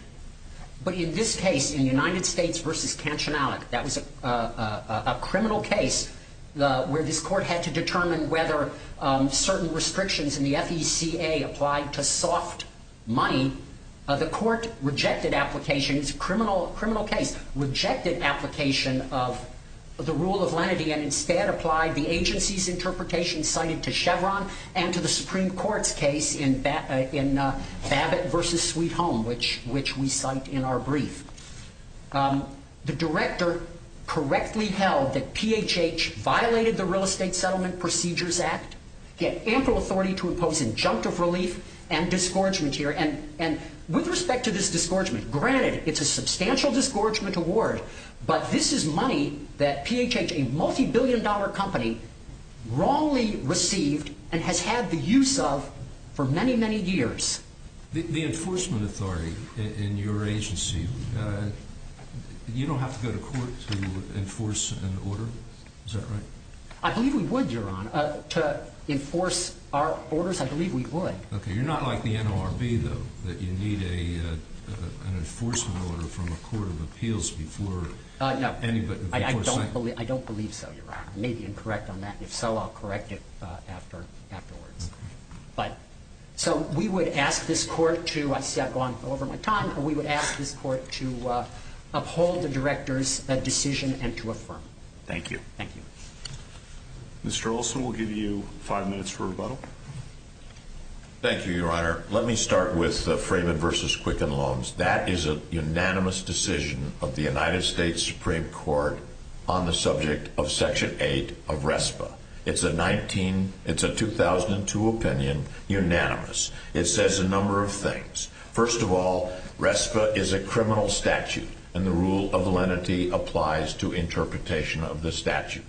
But in this case, in United States v. Cansionalic, that was a criminal case where this court had to determine whether certain restrictions in the FECA applied to soft money. The court rejected application. It's a criminal case. Rejected application of the rule of lenity and instead applied the agency's interpretation cited to Chevron and to the Supreme Court's case in Babbitt v. Sweet Home, which we cite in our brief. The director correctly held that PHH violated the Real Estate Settlement Procedures Act, had ample authority to impose injunctive relief and discouragement here. And with respect to this discouragement, granted it's a substantial discouragement award, but this is money that PHH, a multibillion-dollar company, wrongly received and has had the use of for many, many years. The enforcement authority in your agency, you don't have to go to court to enforce an order? Is that correct? I believe we would, Your Honor. To enforce our orders, I believe we would. Okay, you're not like the NLRB, though, that you need an enforcement order from the Court of Appeals before anybody before Senate. I don't believe so, Your Honor. I may be incorrect on that. If so, I'll correct it after that order. But so we would ask this court to, I see I've gone over my time, but we would ask this court to uphold the director's decision and to affirm it. Thank you. Thank you. Mr. Olson, we'll give you five minutes for rebuttal. Thank you, Your Honor. Let me start with Frayman v. Quicken Loans. That is a unanimous decision of the United States Supreme Court on the subject of Section 8 of RESPA. It's a 2002 opinion, unanimous. It says a number of things. First of all, RESPA is a criminal statute, and the rule of lenity applies to interpretation of the statute.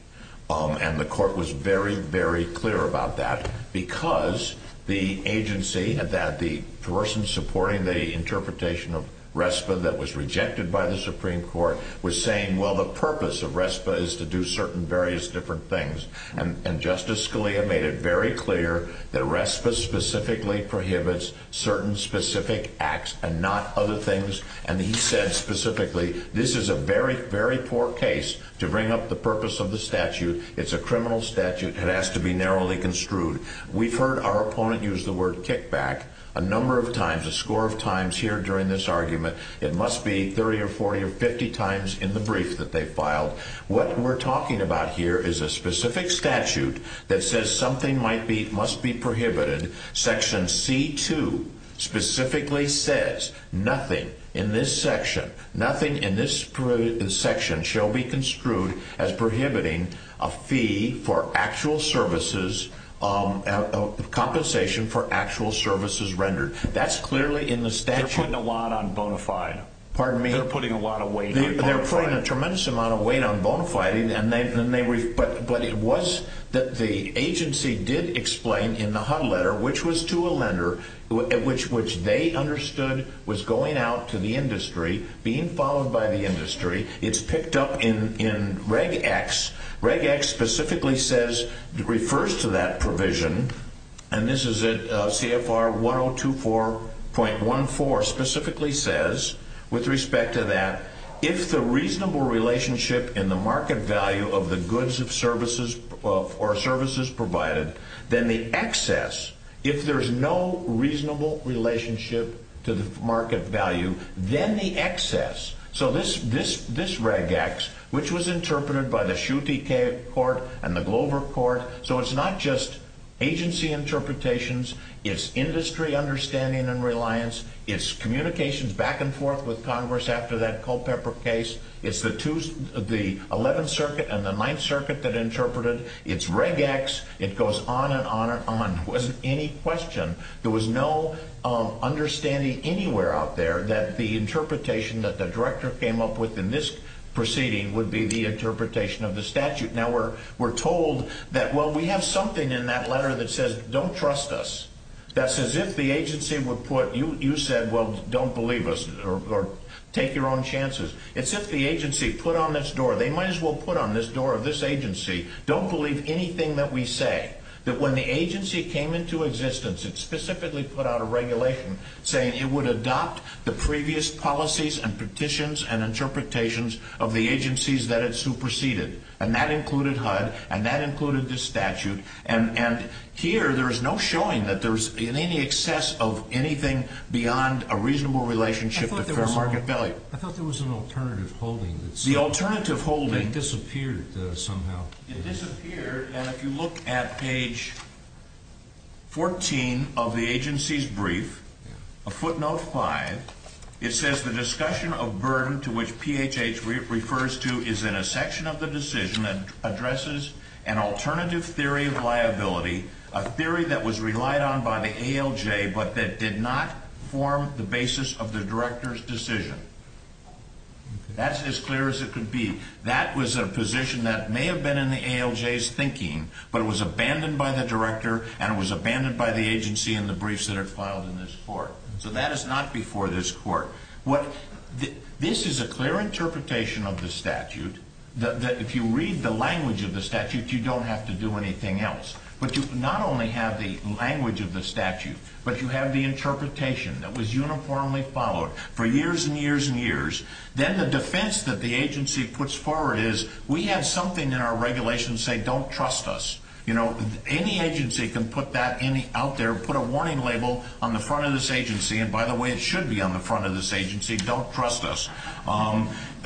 And the court was very, very clear about that because the agency, the person supporting the interpretation of RESPA that was rejected by the Supreme Court, was saying, well, the purpose of RESPA is to do certain various different things. And Justice Scalia made it very clear that RESPA specifically prohibits certain specific acts and not other things. And he said specifically, this is a very, very poor case to bring up the purpose of the statute. It's a criminal statute. It has to be narrowly construed. We've heard our opponent use the word kickback a number of times, a score of times here during this argument. It must be 30 or 40 or 50 times in the brief that they filed. What we're talking about here is a specific statute that says something must be prohibited. Section C-2 specifically says nothing in this section, nothing in this section shall be construed as prohibiting a fee for actual services, compensation for actual services rendered. That's clearly in the statute. They're putting a lot on bonafide. Pardon me? They're putting a lot of weight on bonafide. They're putting a tremendous amount of weight on bonafide. But it was that the agency did explain in the HUD letter, which was to a lender, which they understood was going out to the industry, being followed by the industry. It's picked up in Reg X. Reg X specifically says, refers to that provision, and this is at CFR 102.14, specifically says with respect to that, if the reasonable relationship in the market value of the goods or services provided, then the excess, if there's no reasonable relationship to the market value, then the excess, so this Reg X, which was interpreted by the Shutey Court and the Glover Court, so it's not just agency interpretations, it's industry understanding and reliance, it's communications back and forth with Congress after that Culpepper case, it's the 11th Circuit and the 9th Circuit that interpreted, it's Reg X, it goes on and on and on. It wasn't any question. There was no understanding anywhere out there that the interpretation that the director came up with in this proceeding would be the interpretation of the statute. Now, we're told that, well, we have something in that letter that says, don't trust us. That's as if the agency would put, you said, well, don't believe us, or take your own chances. It's as if the agency put on this door, they might as well put on this door of this agency, don't believe anything that we say, that when the agency came into existence and specifically put out a regulation saying it would adopt the previous policies and petitions and interpretations of the agencies that it superseded, and that included HUD, and that included this statute, and here there is no showing that there's any excess of anything beyond a reasonable relationship with the fair market value. I thought there was an alternative holding. The alternative holding... It disappeared somehow. It disappeared, and if you look at page 14 of the agency's brief, a footnote 5, it says the discussion of burden to which PHH refers to is in a section of the decision that addresses an alternative theory of liability, a theory that was relied on by the ALJ but that did not form the basis of the director's decision. That's as clear as it could be. That was a position that may have been in the ALJ's thinking, but it was abandoned by the director and it was abandoned by the agency in the briefs that are filed in this court. So that is not before this court. This is a clear interpretation of the statute that if you read the language of the statute, you don't have to do anything else, but you not only have the language of the statute, but you have the interpretation that was uniformly followed for years and years and years. Then the defense that the agency puts forward is we have something in our regulation saying don't trust us. Any agency can put that out there, put a warning label on the front of this agency, and by the way, it should be on the front of this agency, don't trust us,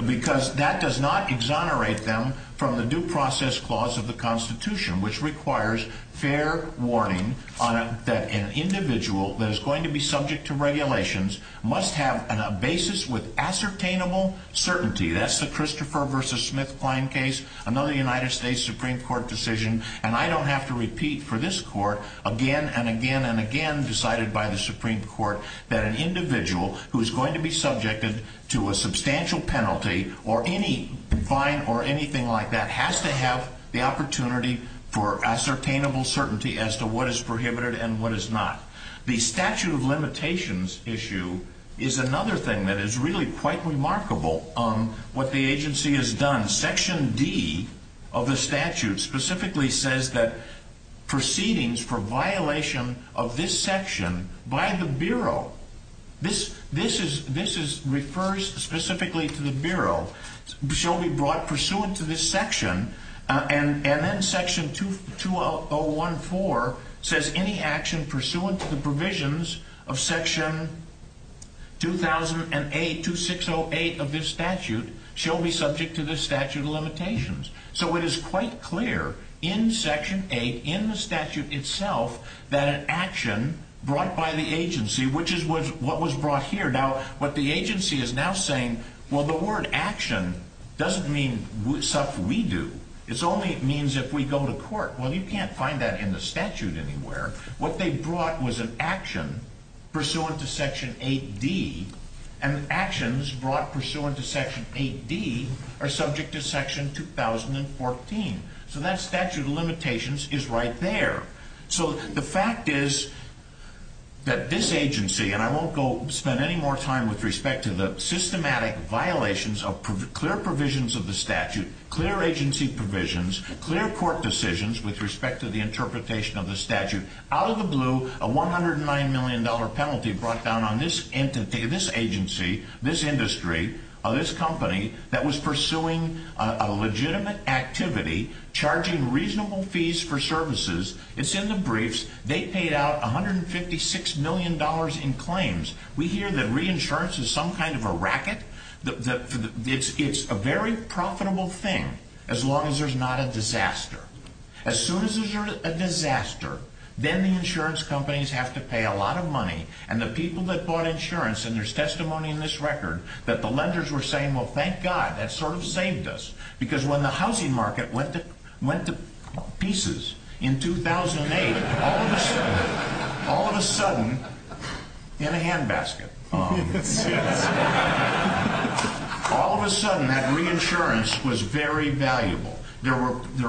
because that does not exonerate them from the due process clause of the Constitution, which requires fair warning that an individual that is going to be subject to regulations must have a basis with ascertainable certainty. That's the Christopher v. Smith fine case, another United States Supreme Court decision, and I don't have to repeat for this court, again and again and again decided by the Supreme Court, that an individual who is going to be subjected to a substantial penalty or any fine or anything like that has to have the opportunity for ascertainable certainty as to what is prohibited and what is not. The statute of limitations issue is another thing that is really quite remarkable on what the agency has done. Section D of the statute specifically says that proceedings for violation of this section by the Bureau, this refers specifically to the Bureau, shall be brought pursuant to this section, and then Section 201-4 says any action pursuant to the provisions of Section 2008-2608 of this statute shall be subject to this statute of limitations. So it is quite clear in Section 8 in the statute itself that an action brought by the agency, which is what was brought here. Now, what the agency is now saying, well, the word action doesn't mean such we do. It only means if we go to court. Well, you can't find that in the statute anywhere. What they brought was an action pursuant to Section 8D, and actions brought pursuant to Section 8D are subject to Section 2014. So that statute of limitations is right there. So the fact is that this agency, and I won't spend any more time with respect to the systematic violations of clear provisions of the statute, clear agency provisions, clear court decisions with respect to the interpretation of the statute. Out of the blue, a $109 million penalty brought down on this agency, this industry, this company, that was pursuing a legitimate activity, charging reasonable fees for services. It's in the briefs. They paid out $156 million in claims. We hear that reinsurance is some kind of a racket. It's a very profitable thing as long as there's not a disaster. As soon as there's a disaster, then the insurance companies have to pay a lot of money, and the people that bought insurance, and there's testimony in this record that the lenders were saying, well, thank God, that sort of saved us, because when the housing market went to pieces in 2008, all of a sudden, all of a sudden, in a handbasket, all of a sudden that reinsurance was very valuable. There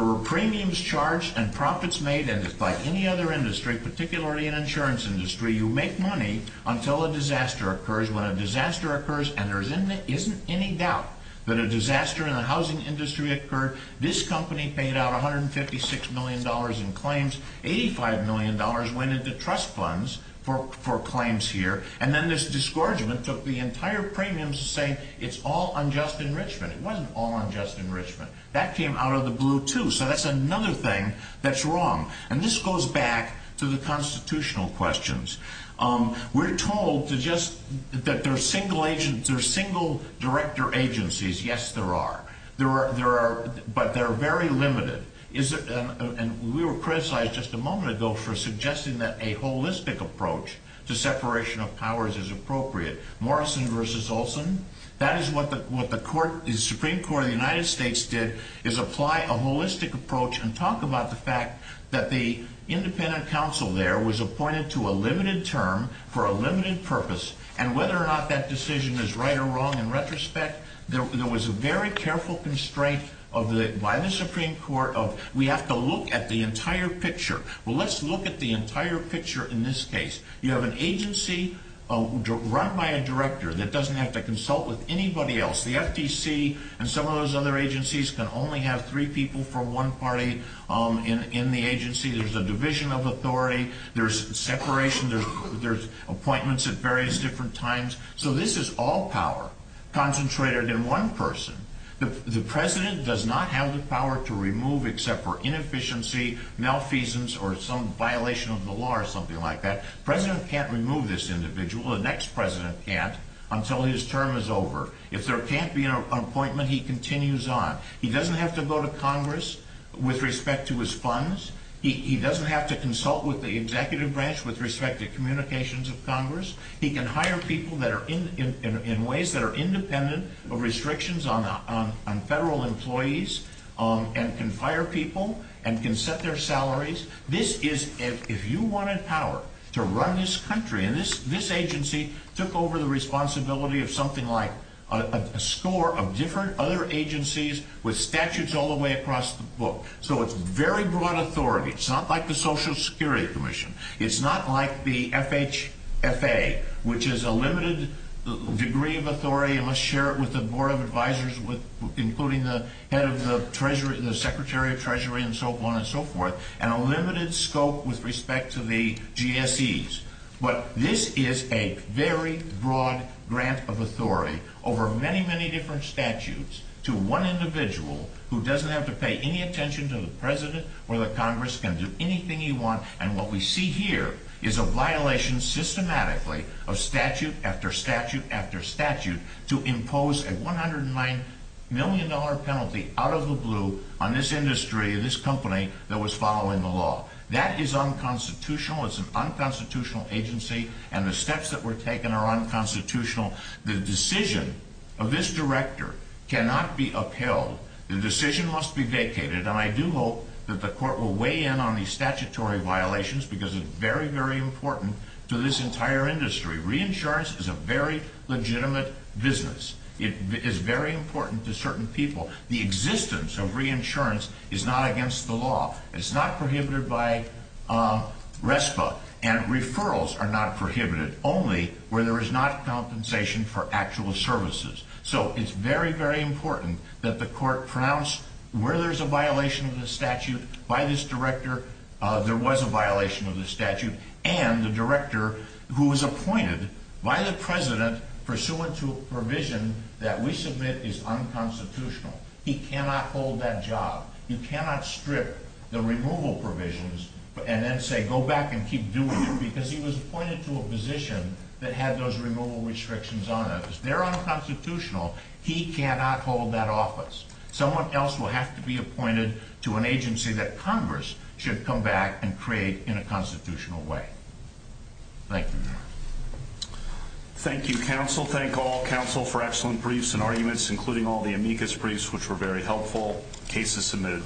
were premiums charged and profits made, and by any other industry, particularly an insurance industry, you make money until a disaster occurs. When a disaster occurs and there isn't any doubt that a disaster in the housing industry occurred, this company paid out $156 million in claims. $85 million went into trust funds for claims here, and then this disgorgement took the entire premiums to say it's all unjust enrichment. It wasn't all unjust enrichment. That came out of the blue, too, so that's another thing that's wrong, and this goes back to the constitutional questions. We're told that there are single-director agencies. Yes, there are, but they're very limited. We were criticized just a moment ago for suggesting that a holistic approach to separation of powers is appropriate. Morrison v. Olson, that is what the Supreme Court of the United States did, is apply a holistic approach and talk about the fact that the independent counsel there was appointed to a limited term for a limited purpose, and whether or not that decision is right or wrong in retrospect, there was a very careful constraint by the Supreme Court of we have to look at the entire picture. Well, let's look at the entire picture in this case. You have an agency run by a director that doesn't have to consult with anybody else. The FTC and some of those other agencies can only have three people from one party in the agency. There's a division of authority. There's separation. There's appointments at various different times. So this is all power concentrated in one person. The president does not have the power to remove except for inefficiency, malfeasance, or some violation of the law or something like that. The president can't remove this individual. The next president can't until his term is over. If there can't be an appointment, he continues on. He doesn't have to go to Congress with respect to his funds. He doesn't have to consult with the executive branch with respect to communications of Congress. He can hire people in ways that are independent of restrictions on federal employees and can hire people and can set their salaries. If you wanted power to run this country, and this agency took over the responsibility of something like a score of different other agencies with statutes all the way across the book. So it's very broad authority. It's not like the Social Security Commission. It's not like the FHFA, which is a limited degree of authority. You must share it with the Board of Advisors, including the head of the Treasury and the Secretary of Treasury and so on and so forth, and a limited scope with respect to the GSEs. But this is a very broad grant of authority over many, many different statutes to one individual who doesn't have to pay any attention to the president or the Congress, can do anything he wants. And what we see here is a violation systematically of statute after statute after statute to impose a $109 million penalty out of the blue on this industry, this company, that was following the law. That is unconstitutional. It's an unconstitutional agency, and the steps that were taken are unconstitutional. The decision of this director cannot be upheld. The decision must be vacated, and I do hope that the court will weigh in on these statutory violations, because it's very, very important to this entire industry. Reinsurance is a very legitimate business. It is very important to certain people. The existence of reinsurance is not against the law. It's not prohibited by RESPA, and referrals are not prohibited, only where there is not compensation for actual services. So it's very, very important that the court pronounce where there's a violation of the statute by this director, there was a violation of the statute, and the director who was appointed by the president pursuant to a provision that we submit is unconstitutional. He cannot hold that job. You cannot strip the removal provisions and then say, go back and keep doing it, because he was appointed to a position that had those removal restrictions on it. He cannot hold that office. Someone else will have to be appointed to an agency that Congress should come back and create in a constitutional way. Thank you. Thank you, counsel. Thank all counsel for excellent briefs and arguments, including all the amicus briefs, which were very helpful. Case is submitted.